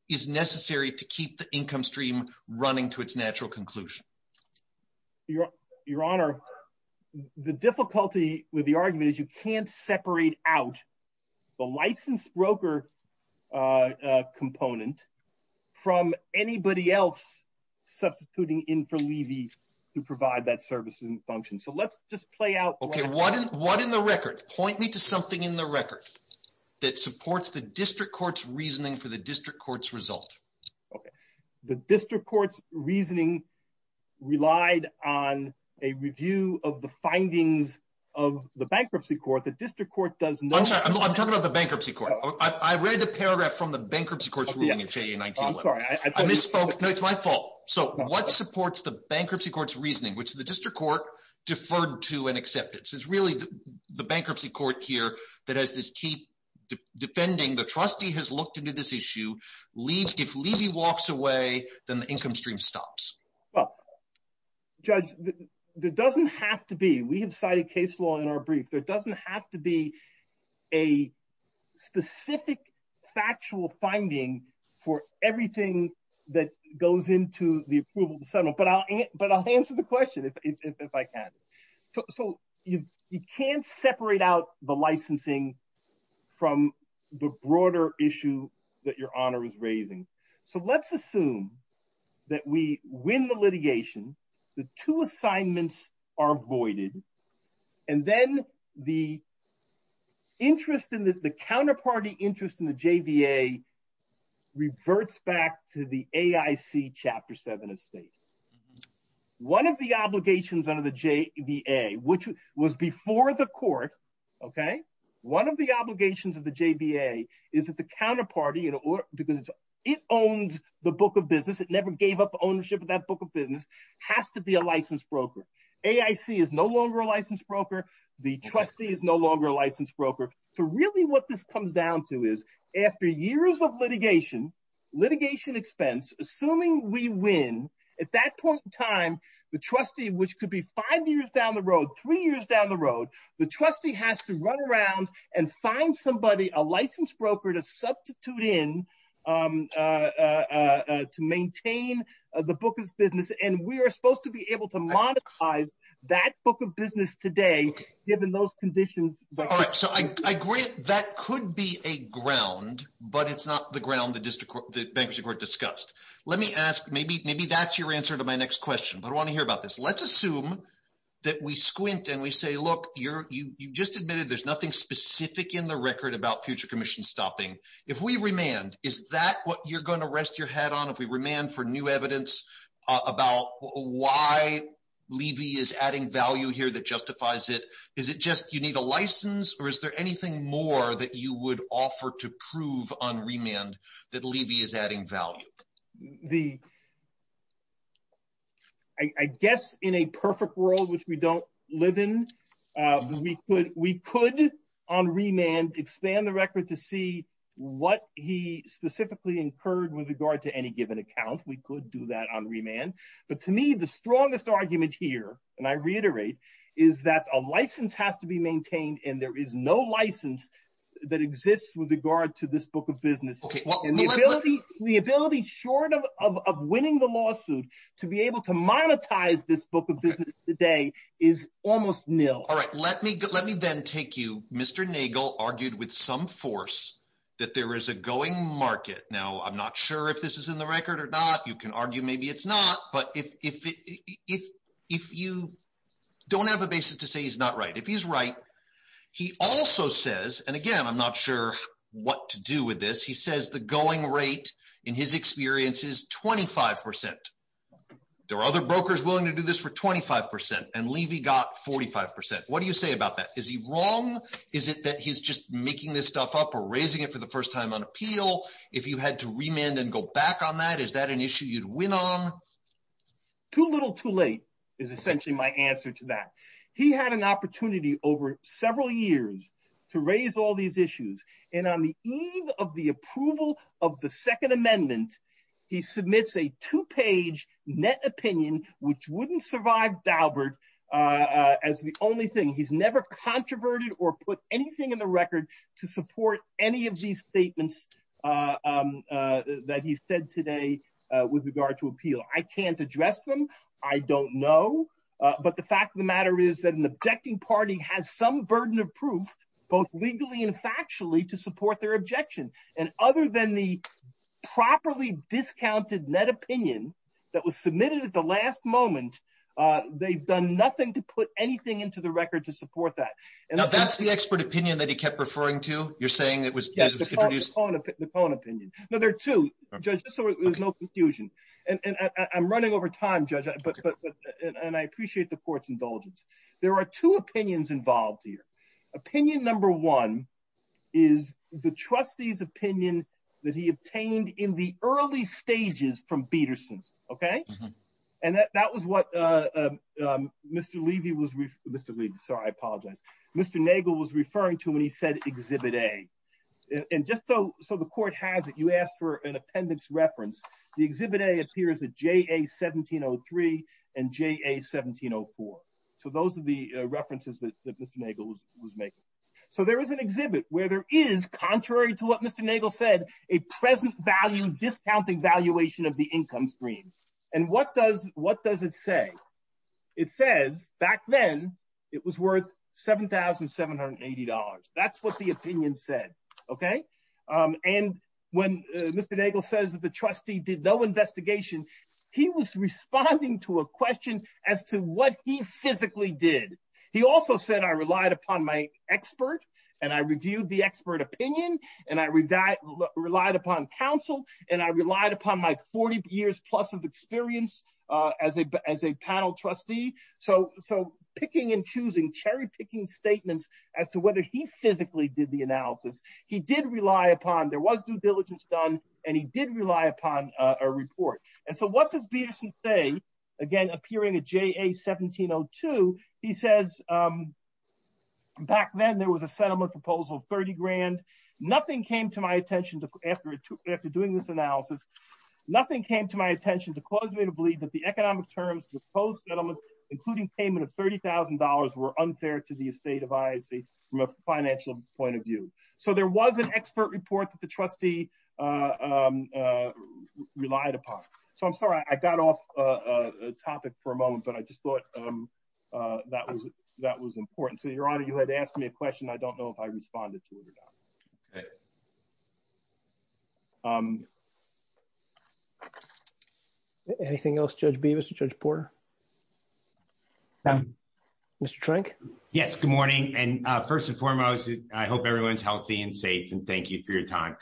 is necessary to keep the income stream running to its natural conclusion. Your Honor, the difficulty with the argument is you can't separate out the licensed broker component from anybody else substituting in for Levy to provide that service and function. So let's just play out. Okay, what in the record? Point me to something in the record that supports the district court's reasoning for the district court's result. Okay, the district court's reasoning relied on a review of the findings of the bankruptcy court. The district court does not. I'm sorry, I'm talking about the bankruptcy court. I read the paragraph from the bankruptcy court's ruling in FAA 19. I misspoke. No, it's my fault. So what supports the bankruptcy court's reasoning, which the district court deferred to and accepted? So it's really the bankruptcy court here that has this key defending. The trustee has looked into this issue. If Levy walks away, then the income stream stops. Well, Judge, there doesn't have to be. We have cited case law in our brief. There doesn't have to be a specific factual finding for everything that goes into the approval of the settlement. But I'll answer the question if I can. So you can't separate out the licensing from the broader issue that your honor is raising. So let's assume that we win the litigation, the two assignments are voided, and then the interest in the counterparty interest in the JBA reverts back to the AIC Chapter 7 estate. One of the obligations under the JBA, which was before the court, okay, one of the obligations of the JBA is that the counterparty, because it owns the book of business, it never gave up ownership of that book of business, has to be a licensed broker. AIC is no longer a licensed broker. The trustee is no longer a licensed broker. So really what this comes down to is after years of litigation, litigation expense, assuming we win, at that point in time, the trustee, which could be five years down the road, three years down the road, the trustee has to run around and find somebody, a licensed broker to substitute in to maintain the book of business. And we are supposed to be able to monetize that book of but it's not the ground the bankruptcy court discussed. Let me ask, maybe that's your answer to my next question, but I want to hear about this. Let's assume that we squint and we say, look, you just admitted there's nothing specific in the record about future commission stopping. If we remand, is that what you're going to rest your head on if we remand for new evidence about why Levy is adding value here that justifies it? Is it just you need a license, or is there anything more that you would offer to prove on remand that Levy is adding value? I guess in a perfect world, which we don't live in, we could on remand expand the record to see what he specifically incurred with regard to any given account. We could do that on remand. But to me, the strongest argument here, and I reiterate, is that a license has to be maintained and there is no license that exists with regard to this book of business. The ability short of winning the lawsuit to be able to monetize this book of business today is almost nil. All right. Let me then take you, Mr. Nagel argued with some force that there is a going market. Now, I'm not sure if this is in the record or not. You can argue maybe it's not. But if you don't have a basis to say he's not right, if he's right, he also says, and again, I'm not sure what to do with this. He says the going rate in his experience is 25%. There are other brokers willing to do this for 25%, and Levy got 45%. What do you say about that? Is he wrong? Is it that he's just making this stuff up or raising it for the first time on appeal? If you had to remand and go back on that, is that an issue you'd win on? Too little, too late is essentially my answer to that. He had an opportunity over several years to raise all these issues. And on the eve of the approval of the Second Amendment, he submits a two-page net opinion, which wouldn't survive Daubert as the only thing. He's never controverted or put anything in the record to support any of these statements that he said today with regard to appeal. I can't address them. I don't know. But the fact of the matter is that an objecting party has some burden of proof, both legally and factually, to support their objection. And other than the properly discounted net opinion that was submitted at the last moment, they've done nothing to put anything into the record to support that. Now, that's the expert opinion that he kept referring to? You're saying it was- The Cohen opinion. No, there are two, Judge, so there's no confusion. And I'm running over time, Judge, and I appreciate the court's indulgence. There are two opinions involved here. Opinion number one is the trustee's opinion that he obtained in the early stages from Peterson, okay? And that was what Mr. Levy was- Mr. Levy, sorry, I apologize. Mr. Nagel was referring to Exhibit A. And just so the court has it, you asked for an appendix reference. The Exhibit A appears at JA-1703 and JA-1704. So those are the references that Mr. Nagel was making. So there is an exhibit where there is, contrary to what Mr. Nagel said, a present value discounting valuation of the income stream. And what does it say? It says, back then, it was worth $7,780. That's what the opinion said, okay? And when Mr. Nagel says that the trustee did no investigation, he was responding to a question as to what he physically did. He also said, I relied upon my expert, and I reviewed the expert opinion, and I relied upon counsel, and I relied upon my 40 years plus of experience as a panel trustee. So picking and choosing, cherry-picking statements as to whether he physically did the analysis. He did rely upon, there was due diligence done, and he did rely upon a report. And so what does Peterson say, again, appearing at JA-1702? He says, back then, there was a settlement proposal of $30,000. Nothing came to my attention after doing this analysis, nothing came to my attention to cause me to believe that the economic terms of the proposed settlement, including payment of $30,000, were unfair to the estate of ISD from a financial point of view. So there was an expert report that the trustee relied upon. So I'm sorry, I got off topic for a moment, but I just thought that was important. So Your Honor, you had asked me a question, I don't know if I responded to it. Anything else, Judge Beebe, Mr. Judge Porter? Mr. Trank? Yes, good morning. And first and foremost, I hope everyone's healthy and safe, and thank you for your time.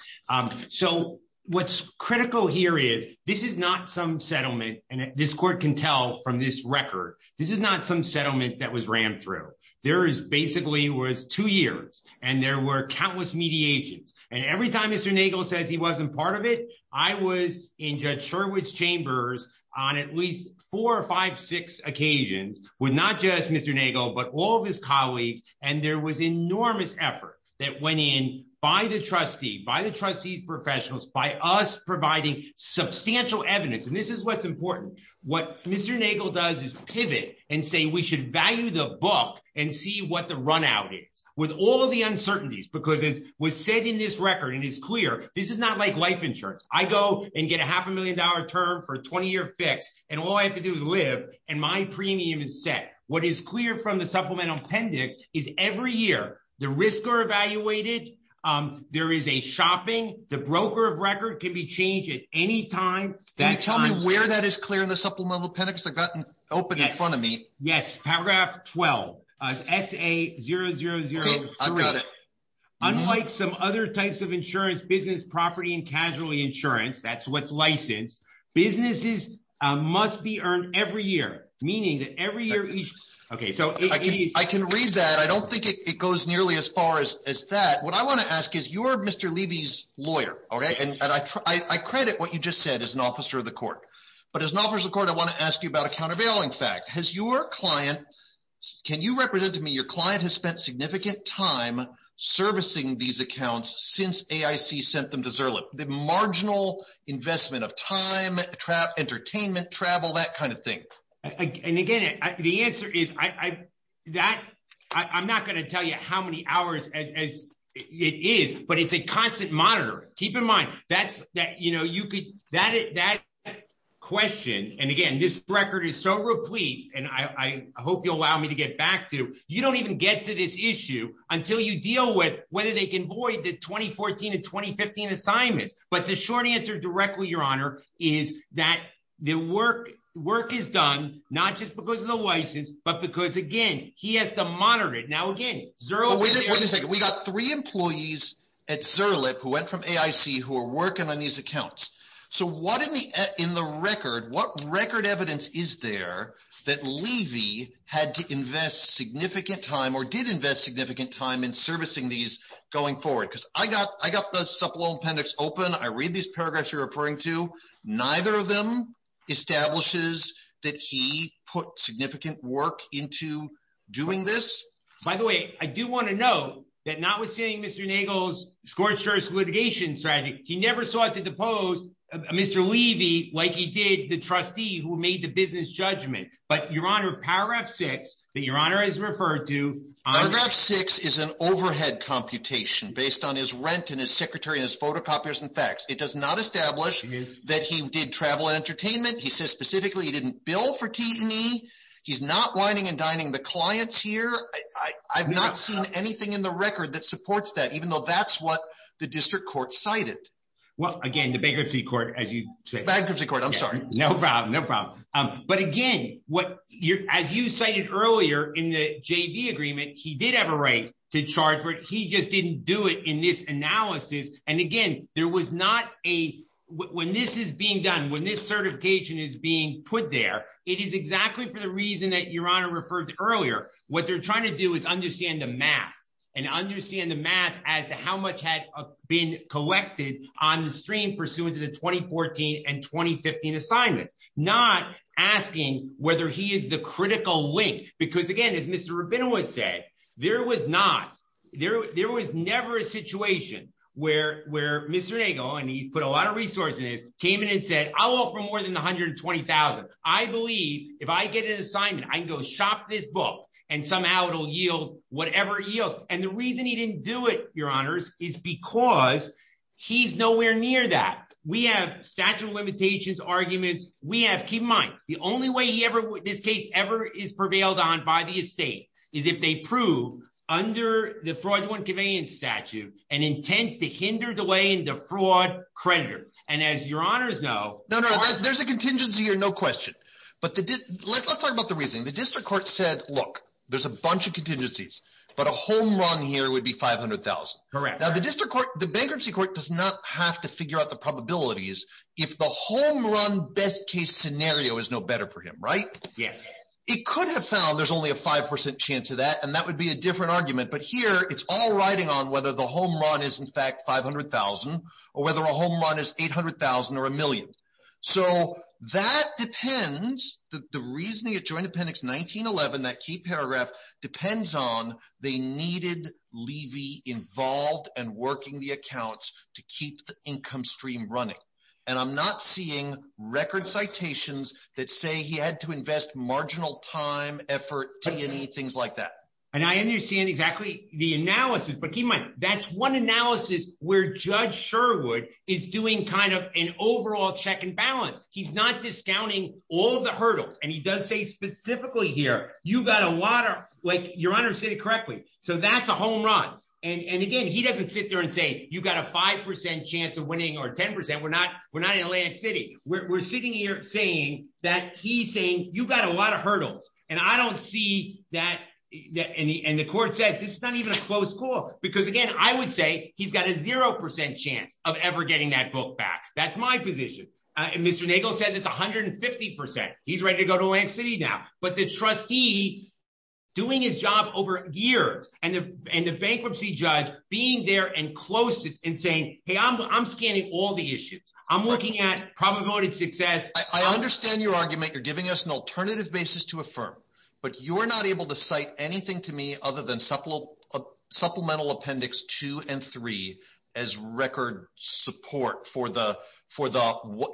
So what's critical here is, this is not some settlement, and this court can tell from this record, this is not some settlement that was ran through. There is basically was two years, and there were countless mediations. And every time Mr. Nagel said he wasn't part of it, I was in Judge Sherwood's chambers on at least four or five, six occasions with not just Mr. Nagel, but all of his colleagues. And there was enormous effort that went in by the trustee, by the trustee's professionals, by us providing substantial evidence. And this is what's is pivot and say we should value the book and see what the run out is. With all of the uncertainties, because it was said in this record, and it's clear, this is not like life insurance. I go and get a half a million dollar term for a 20 year fix, and all I have to do is live, and my premium is set. What is clear from the supplemental appendix is every year, the risks are evaluated, there is a shopping, the broker of record can be changed at any time. Can you tell me where that is clear in the supplemental appendix? I've got it open in front of me. Yes, paragraph 12, SA 0003. Unlike some other types of insurance, business property and casualty insurance, that's what's licensed, businesses must be earned every year, meaning that every year. Okay, so I can read that. I don't think it goes nearly as far as that. What I want to ask is you're Mr. Levy's lawyer, okay? And I credit what you just said as an officer of the court. But as an officer of the court, I want to ask you about a countervailing fact. Has your client, can you represent to me your client has spent significant time servicing these accounts since AIC sent them to Zurich? The marginal investment of time, entertainment, travel, that kind of thing. And again, the answer is that I'm not going to tell you how many hours it is, but it's a constant monitor. Keep in mind that question, and again, this record is so replete, and I hope you'll allow me to get back to, you don't even get to this issue until you deal with whether they can avoid the 2014 and 2015 assignments. But the short answer directly, your honor, is that the work is done, not just because of the license, but because again, he has to monitor it. Now again, Zurich... We got three employees at Zurich who went from AIC who are working on these accounts. So what in the record, what record evidence is there that Levy had to invest significant time or did invest significant time in servicing these going forward? Because I got the supplemental appendix open. I read these paragraphs you're put significant work into doing this. By the way, I do want to note that notwithstanding Mr. Nagle's scorched earth litigation strategy, he never sought to depose Mr. Levy like he did the trustee who made the business judgment. But your honor, paragraph six that your honor has referred to... Paragraph six is an overhead computation based on his rent and his secretary and his photocopiers and fax. It does not establish that he did travel and entertainment. He says specifically he didn't bill for T&E. He's not whining and dining the clients here. I've not seen anything in the record that supports that, even though that's what the district court cited. Well again, the bankruptcy court as you say... Bankruptcy court, I'm sorry. No problem, no problem. But again, as you cited earlier in the JV agreement, he did have a right to charge for it. He just didn't do it in this analysis. And again, there was not a... When this is being done, when this certification is being put there, it is exactly for the reason that your honor referred to earlier. What they're trying to do is understand the math and understand the math as to how much had been collected on the stream pursuant to the 2014 and 2015 assignments. Not asking whether he is the critical link. Because again, as Mr. Rabinowitz said, there was not... There was never a situation where Mr. Nagle, and he put a lot of resources in it, came in and said, I'll offer more than $120,000. I believe if I get an assignment, I can go shop this book and somehow it'll yield whatever it yields. And the reason he didn't do it, your honors, is because he's nowhere near that. We have statute of limitations arguments. We have... Keep in mind, the only way this case ever is prevailed on by the estate is if they prove under the fraudulent conveyance statute, an intent to hinder delay in the fraud creditor. And as your honors know... No, no, there's a contingency here, no question. But let's talk about the reasoning. The district court said, look, there's a bunch of contingencies, but a home run here would be $500,000. Correct. Now the district court, the bankruptcy court, does not have to figure out the probabilities if the home run best case scenario is no better for him, right? Yes. It could have found there's only a 5% chance of that, and that would be a or whether a home run is $800,000 or a million. So that depends. The reasoning of joint appendix 1911, that key paragraph, depends on they needed Levy involved and working the accounts to keep the income stream running. And I'm not seeing record citations that say he had to invest marginal time, effort, money, things like that. And I understand exactly the analysis, but keep in judge Sherwood is doing kind of an overall check and balance. He's not discounting all the hurdles. And he does say specifically here, you've got a lot of... Your honors said it correctly. So that's a home run. And again, he doesn't sit there and say, you've got a 5% chance of winning or 10%. We're not in Atlantic City. We're sitting here saying that he's saying, you've got a lot of hurdles. And I don't see that... And the court said, this is not even a close call. Because again, I would say he's got a 0% chance of ever getting that book back. That's my position. And Mr. Nagle said that's 150%. He's ready to go to Atlantic City now. But the trustee doing his job over years and the bankruptcy judge being there and close to it and saying, hey, I'm scanning all the issues. I'm looking at promoted success. I understand your argument. You're giving us an alternative basis to affirm, but you are not able to cite anything to me other than supplemental appendix 2 and 3 as record support for the...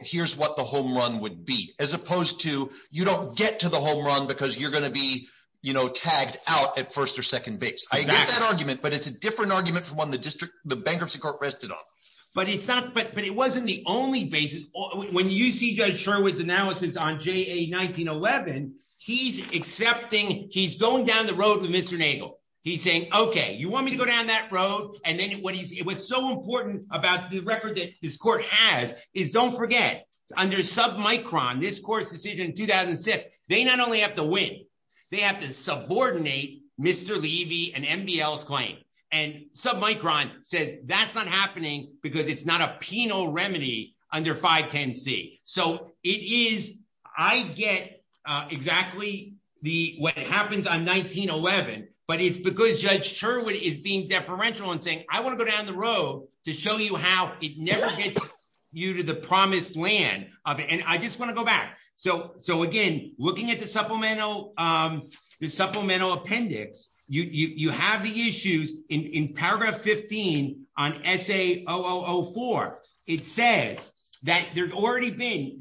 Here's what the home run would be. As opposed to, you don't get to the home run because you're going to be tagged out at first or second base. I get that argument, but it's a different argument from one the bankruptcy court rested on. But it wasn't the only basis. When you see Judge Sherwood's analysis on JA-1911, he's accepting... He's going down the road with Mr. Nagle. He's saying, okay, you want me to go down that road? And then what he's... It was so important about the record that this court has is don't forget under Submicron, this court's decision in 2006, they not only have to win, they have to subordinate Mr. Levy and NBL's claim. And Submicron said that's not happening because it's not a penal remedy under 510C. So it is... I get exactly what happens on 1911, but it's because Judge Sherwood is being deferential and saying, I want to go down the road to show you how it never gets you to the promised land. And I just want to go back. So again, looking at the supplemental appendix, you have the issues in paragraph 15 on SA-0004. It says that there's already been...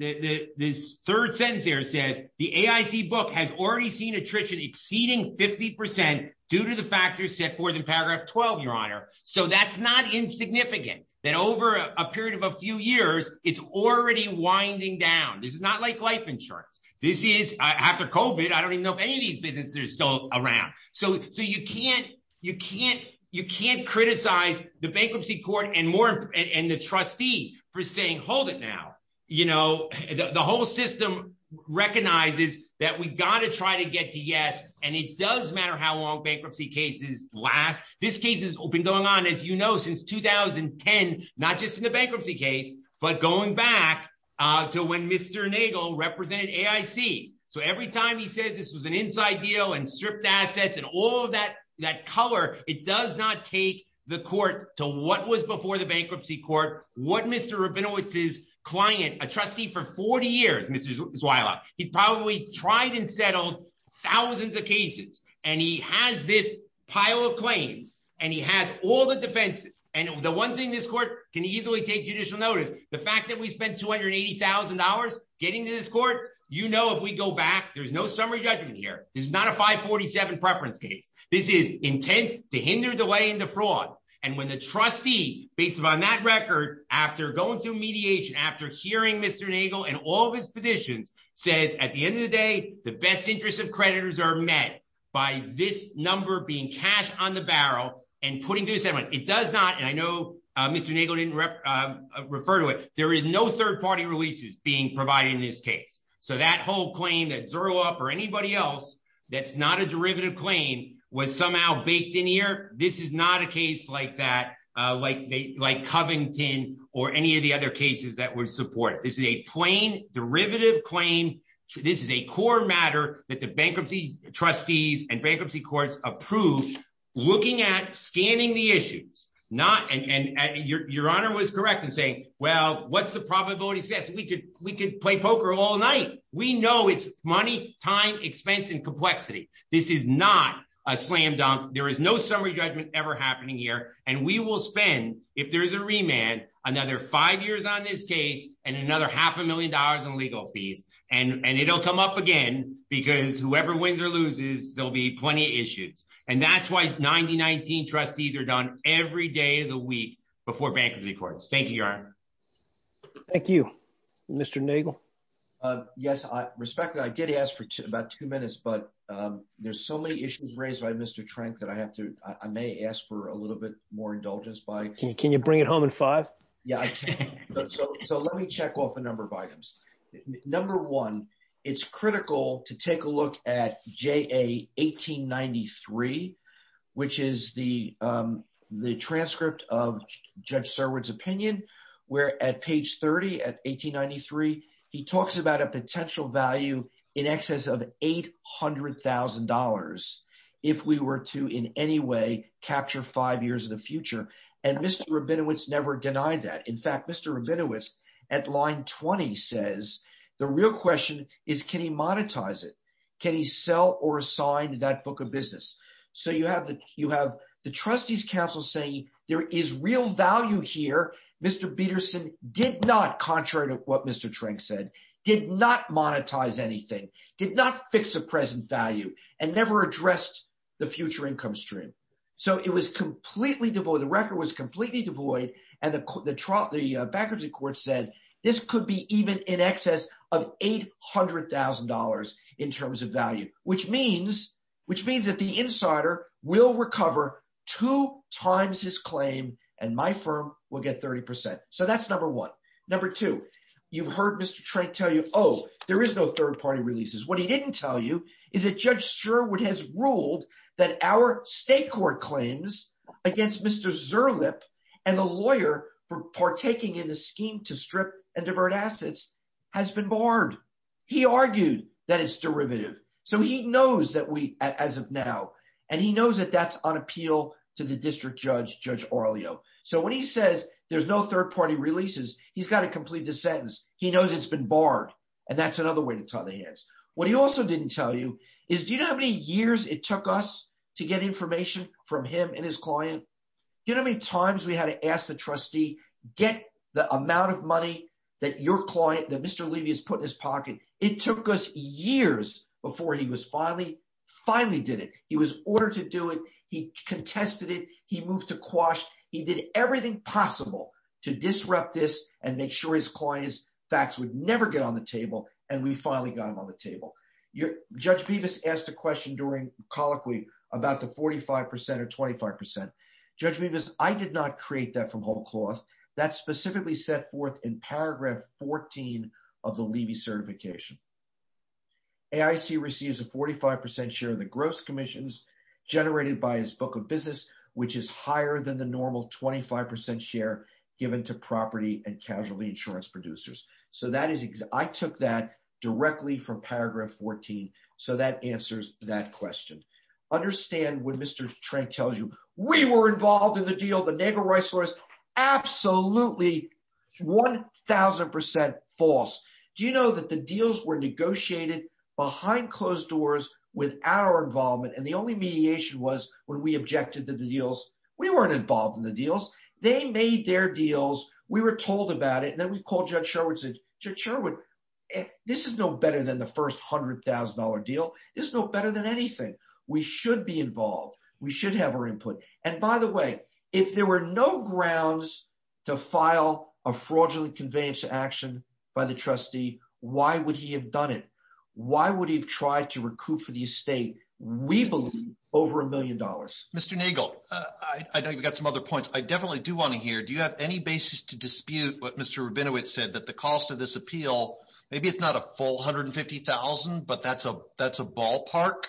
This third sentence here says, the AIC book has already seen exceeding 50% due to the factors set forth in paragraph 12, Your Honor. So that's not insignificant that over a period of a few years, it's already winding down. This is not like life insurance. This is... After COVID, I don't even know if any of these businesses are still around. So you can't criticize the bankruptcy court and the trustee for saying, hold it now. The whole system recognizes that we got to try to get to yes. And it does matter how long bankruptcy cases last. This case has been going on, as you know, since 2010, not just in the bankruptcy case, but going back to when Mr. Nagle represented AIC. So every time he says this was an inside deal and stripped assets and all of that color, it does not take the court to what was before the bankruptcy court, what Mr. Rabinowitz's client, a trustee for 40 years, Mr. Zwaila, he probably tried and settled thousands of cases. And he has this pile of claims and he has all the defenses. And the one thing this court can easily take judicial notice, the fact that we spent $280,000 getting to this court, you know, if we go back, there's no summary judgment here. There's not a 547 preference case. This is intent to hinder delaying the fraud. And when the trustee, based upon that record, after going through mediation, after hearing Mr. Nagle and all of his positions, says at the end of the day, the best interest of creditors are met by this number being cashed on the barrel and putting to a settlement. It does not, and I know Mr. Nagle didn't refer to it, there is no third-party releases being provided in this case. So that whole claim that Zerloff or anybody else, that's not a derivative claim was somehow baked in here. This is not a case like that, like Covington or any of the other cases that were supported. This is a plain derivative claim. This is a core matter that the bankruptcy trustees and bankruptcy courts approved, looking at, scanning the issues. Your honor was correct in saying, well, what's the probability we could play poker all night? We know it's money, time, expense, and complexity. This is not a slam dunk. There is no summary judgment ever happening here. And we will spend, if there's a remand, another five years on this case and another half a million dollars in legal fees. And it'll come up again because whoever wins or loses, there'll be plenty of issues. And that's why 90-19 trustees are done every day of the week before bankruptcy courts. Thank you, your honor. Thank you. Mr. Nagel? Yes, I respect that. I did ask for about two minutes, but there's so many issues raised by Mr. Trent that I have to, I may ask for a little bit more indulgence by- Can you bring it home in five? Yeah. So let me check off a number of items. Number one, it's critical to take a look at JA1893, which is the transcript of Judge Starwood's opinion, where at page 30 at 1893, he talks about a potential value in excess of $800,000 if we were to in any way capture five years of the future. And Mr. Rabinowitz never denied that. In fact, Mr. Rabinowitz at line 20 says, the real question is, can he monetize it? Can he sell or sign that book of business? So you have the trustees' counsel saying there is real value here. Mr. Peterson did not, contrary to what Mr. Trent said, did not monetize anything, did not fix the present value, and never addressed the future income stream. So it was completely devoid. The record was in excess of $800,000 in terms of value, which means that the insider will recover two times his claim and my firm will get 30%. So that's number one. Number two, you've heard Mr. Trent tell you, oh, there is no third party releases. What he didn't tell you is that Judge Starwood has ruled that our state court claims against Mr. Zurlip and the lawyer partaking in a scheme to strip and divert assets has been barred. He argued that it's derivative. So he knows that we, as of now, and he knows that that's on appeal to the district judge, Judge Aurelio. So when he says there's no third party releases, he's got to complete the sentence. He knows it's been barred, and that's another way to tie the hands. What he also didn't tell you is, do you know how many years it took us to get information from him and his client? Do you know how many times we had to trustee, get the amount of money that your client, that Mr. Levy has put in his pocket? It took us years before he was finally, finally did it. He was ordered to do it. He contested it. He moved to quash. He did everything possible to disrupt this and make sure his client's facts would never get on the table. And we finally got him on the table. Judge Bevis asked a question during that specifically set forth in paragraph 14 of the Levy certification. AIC receives a 45% share of the gross commissions generated by his book of business, which is higher than the normal 25% share given to property and casualty insurance producers. So that is, I took that directly from paragraph 14. So that answers that question. Understand when Mr. Trank tells you, we were involved in the deal, the neighbor rice was absolutely 1,000% false. Do you know that the deals were negotiated behind closed doors with our involvement? And the only mediation was when we objected to the deals, we weren't involved in the deals. They made their deals. We were told about it. And then we called Judge Sherwood and said, Judge Sherwood, this is no better than the first $100,000 deal. This is no better than anything. We should be involved. We should have our input. And by the way, if there were no grounds to file a fraudulent conveyance to action by the trustee, why would he have done it? Why would he have tried to recoup for the estate? We believe over a million dollars. Mr. Nagel, I know you've got some other points. I definitely do want to hear, do you have any basis to dispute what Mr. Rabinowitz said, that the cost of this appeal, maybe it's not a full 150,000, but that's a ballpark?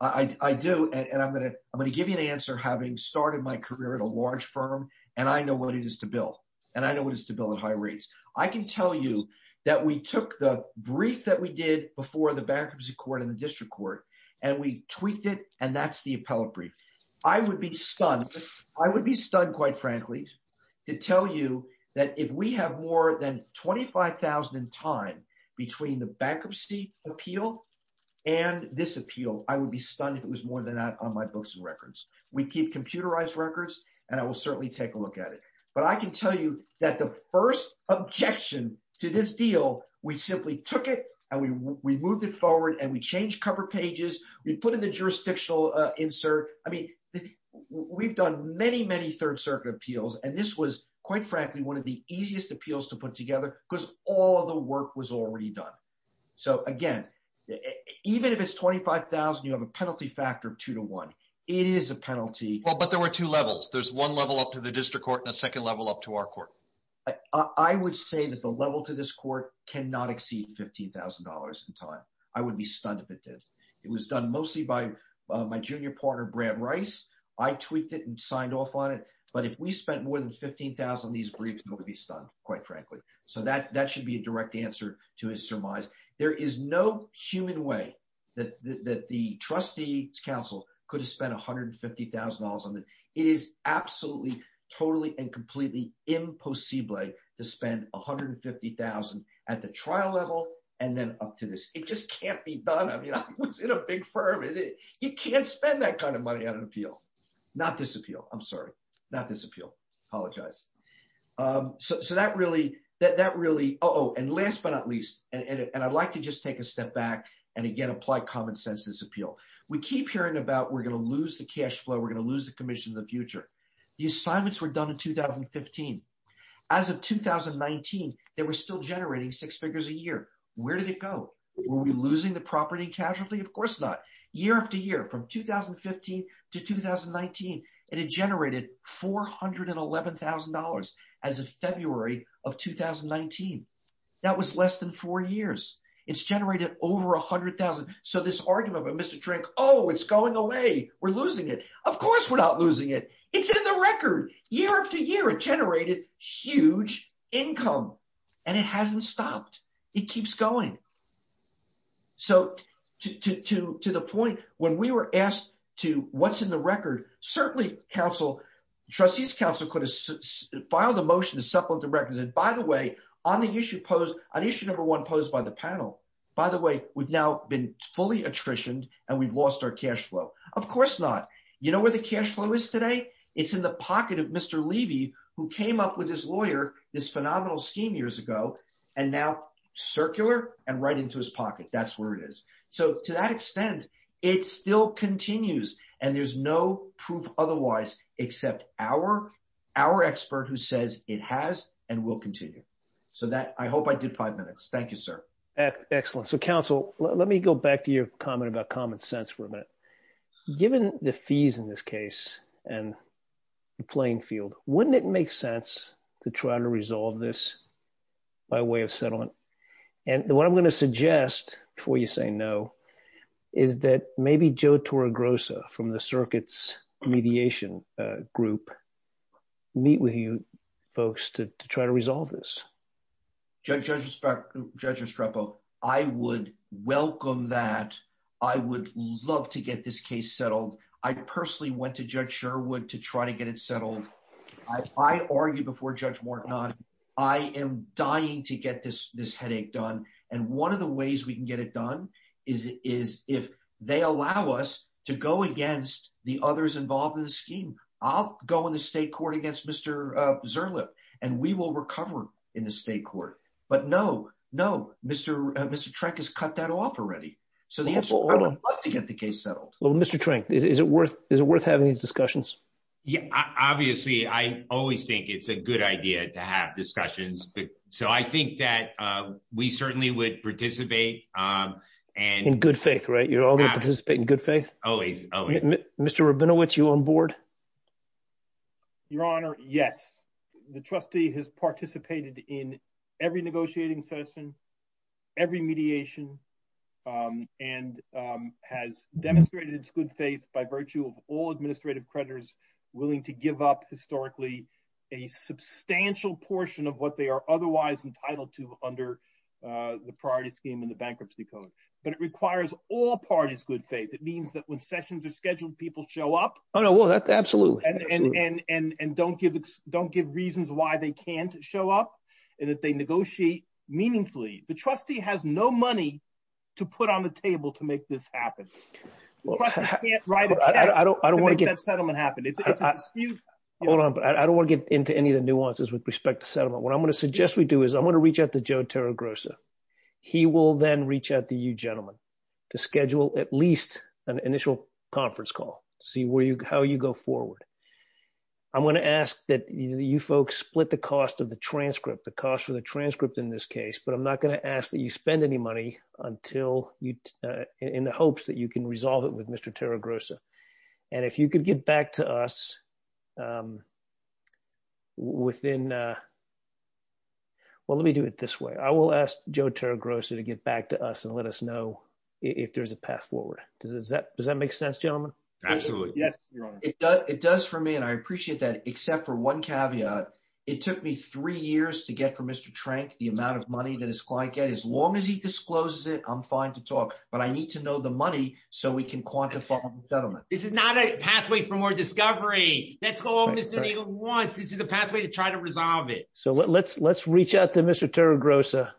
I do. And I'm going to give you an answer having started my career at a large firm, and I know what it is to bill. And I know what it is to bill at high rates. I can tell you that we took the brief that we did before the bankruptcy court and the district court, and we tweaked it. And that's the appellate brief. I would be stunned. I would be stunned, quite frankly, to tell you that if we have more than 25,000 in time between the bankruptcy appeal and this appeal, I would be stunned if it was more than that on my books and records. We keep computerized records, and I will certainly take a look at it. But I can tell you that the first objection to this deal, we simply took it, and we moved it forward, and we changed cover pages. We put in the jurisdictional insert. I mean, we've done many, many Third Circuit appeals, and this was, quite frankly, one of the easiest appeals to put together because all the work was already done. So again, even if it's 25,000, you have a penalty factor of two to one. It is a penalty. Well, but there were two levels. There's one level up to the district court and a second level up to our court. I would say that the level to this court cannot exceed $15,000 in time. I would be stunned if it did. It was done mostly by my junior partner, Brad Rice. I tweaked it and signed off on it. But if we spent more than $15,000 on these briefs, I would be stunned, quite frankly. So that should be a direct answer to his surmise. There is no human way that the trustee's counsel could have spent $150,000 on this. It is absolutely, totally, and completely impossible to spend $150,000 at the trial level and then up to this. It just can't be done. I mean, I was in a big firm. You can't spend that kind of money on an appeal. Not this really. And last but not least, and I'd like to just take a step back and, again, apply common sense in this appeal. We keep hearing about we're going to lose the cash flow. We're going to lose the commission in the future. The assignments were done in 2015. As of 2019, they were still generating six figures a year. Where did it go? Were we losing the property casually? Of course not. Year after year, from 2015 to 2019, it had generated $411,000 as of February of 2019. That was less than four years. It's generated over $100,000. So this argument about Mr. Trank, oh, it's going away. We're losing it. Of course we're not losing it. It's in the record. Year after year, it generated huge income, and it hasn't stopped. It keeps going. So to the point, when we were asked to what's in the record, certainly the trustees council could have filed a motion to settle the records. And by the way, on issue number one posed by the panel, by the way, we've now been fully attritioned and we've lost our cash flow. Of course not. You know where the cash flow is today? It's in the pocket of Mr. Levy, who came up with his lawyer this phenomenal scheme years ago, and now circular and right into his pocket. That's where it is. So to that extent, it still continues and there's no proof otherwise, except our expert who says it has and will continue. So I hope I did five minutes. Thank you, sir. Excellent. So council, let me go back to your comment about common sense for a minute. Given the fees in this case and the playing field, wouldn't it make sense to try to resolve this by way of settlement? And what I'm going to suggest before you say no, is that maybe Joe Torregrossa from the circuits mediation group meet with you folks to try to get this case settled. I personally went to judge Sherwood to try to get it settled. I argued before judge Morton. I am dying to get this headache done. And one of the ways we can get it done is if they allow us to go against the others involved in the scheme, I'll go in the state court against Mr. Zerlip and we will recover in the state court. But no, no, Mr. Trenk has cut that off already. So I'd love to get the case settled. Well, Mr. Trenk, is it worth having these discussions? Yeah, obviously. I always think it's a good idea to have discussions. So I think that we certainly would participate. In good faith, right? You're all going to participate in good faith? Always. Mr. Rabinowitz, you on board? Your honor, yes. The trustee has participated in every negotiating session, every mediation, and has demonstrated its good faith by virtue of all administrative creditors willing to give up historically a substantial portion of what they are otherwise entitled to under the priority scheme and the bankruptcy code. But it requires all parties good faith. It means that when sessions are scheduled, people show up. Oh, no, absolutely. And don't give reasons why they can't show up and that they negotiate meaningfully. The trustee has no money to put on the table to make this happen. I don't want to get into any of the nuances with respect to settlement. What I'm going to suggest we do is I'm going to reach out to Joe Tarragosa. He will then reach out to you gentlemen to schedule at least an initial conference call, see how you go forward. I'm going to ask that you folks split the cost of the transcript, the cost of the transcript in this case, but I'm not going to ask that you spend any money in the hopes that you can resolve it with Mr. Tarragosa. And if you could get back to us within, well, let me do it this way. I will ask Joe Tarragosa to get back to us and let us Absolutely. It does for me and I appreciate that except for one caveat. It took me three years to get for Mr. Trank the amount of money that his client get. As long as he discloses it, I'm fine to talk, but I need to know the money so we can quantify the settlement. This is not a pathway for more discovery. That's all Mr. Nagle wants. This is a pathway to try to resolve it. So let's reach out to Mr. Tarragosa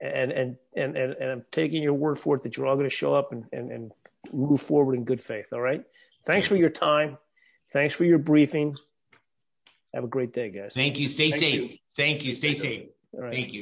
and I'm taking your word for it that you're all going to show up and move forward in good faith. All right. Thanks for your time. Thanks for your briefing. Have a great day, guys. Thank you. Stay safe. Thank you. Stay safe. Thank you.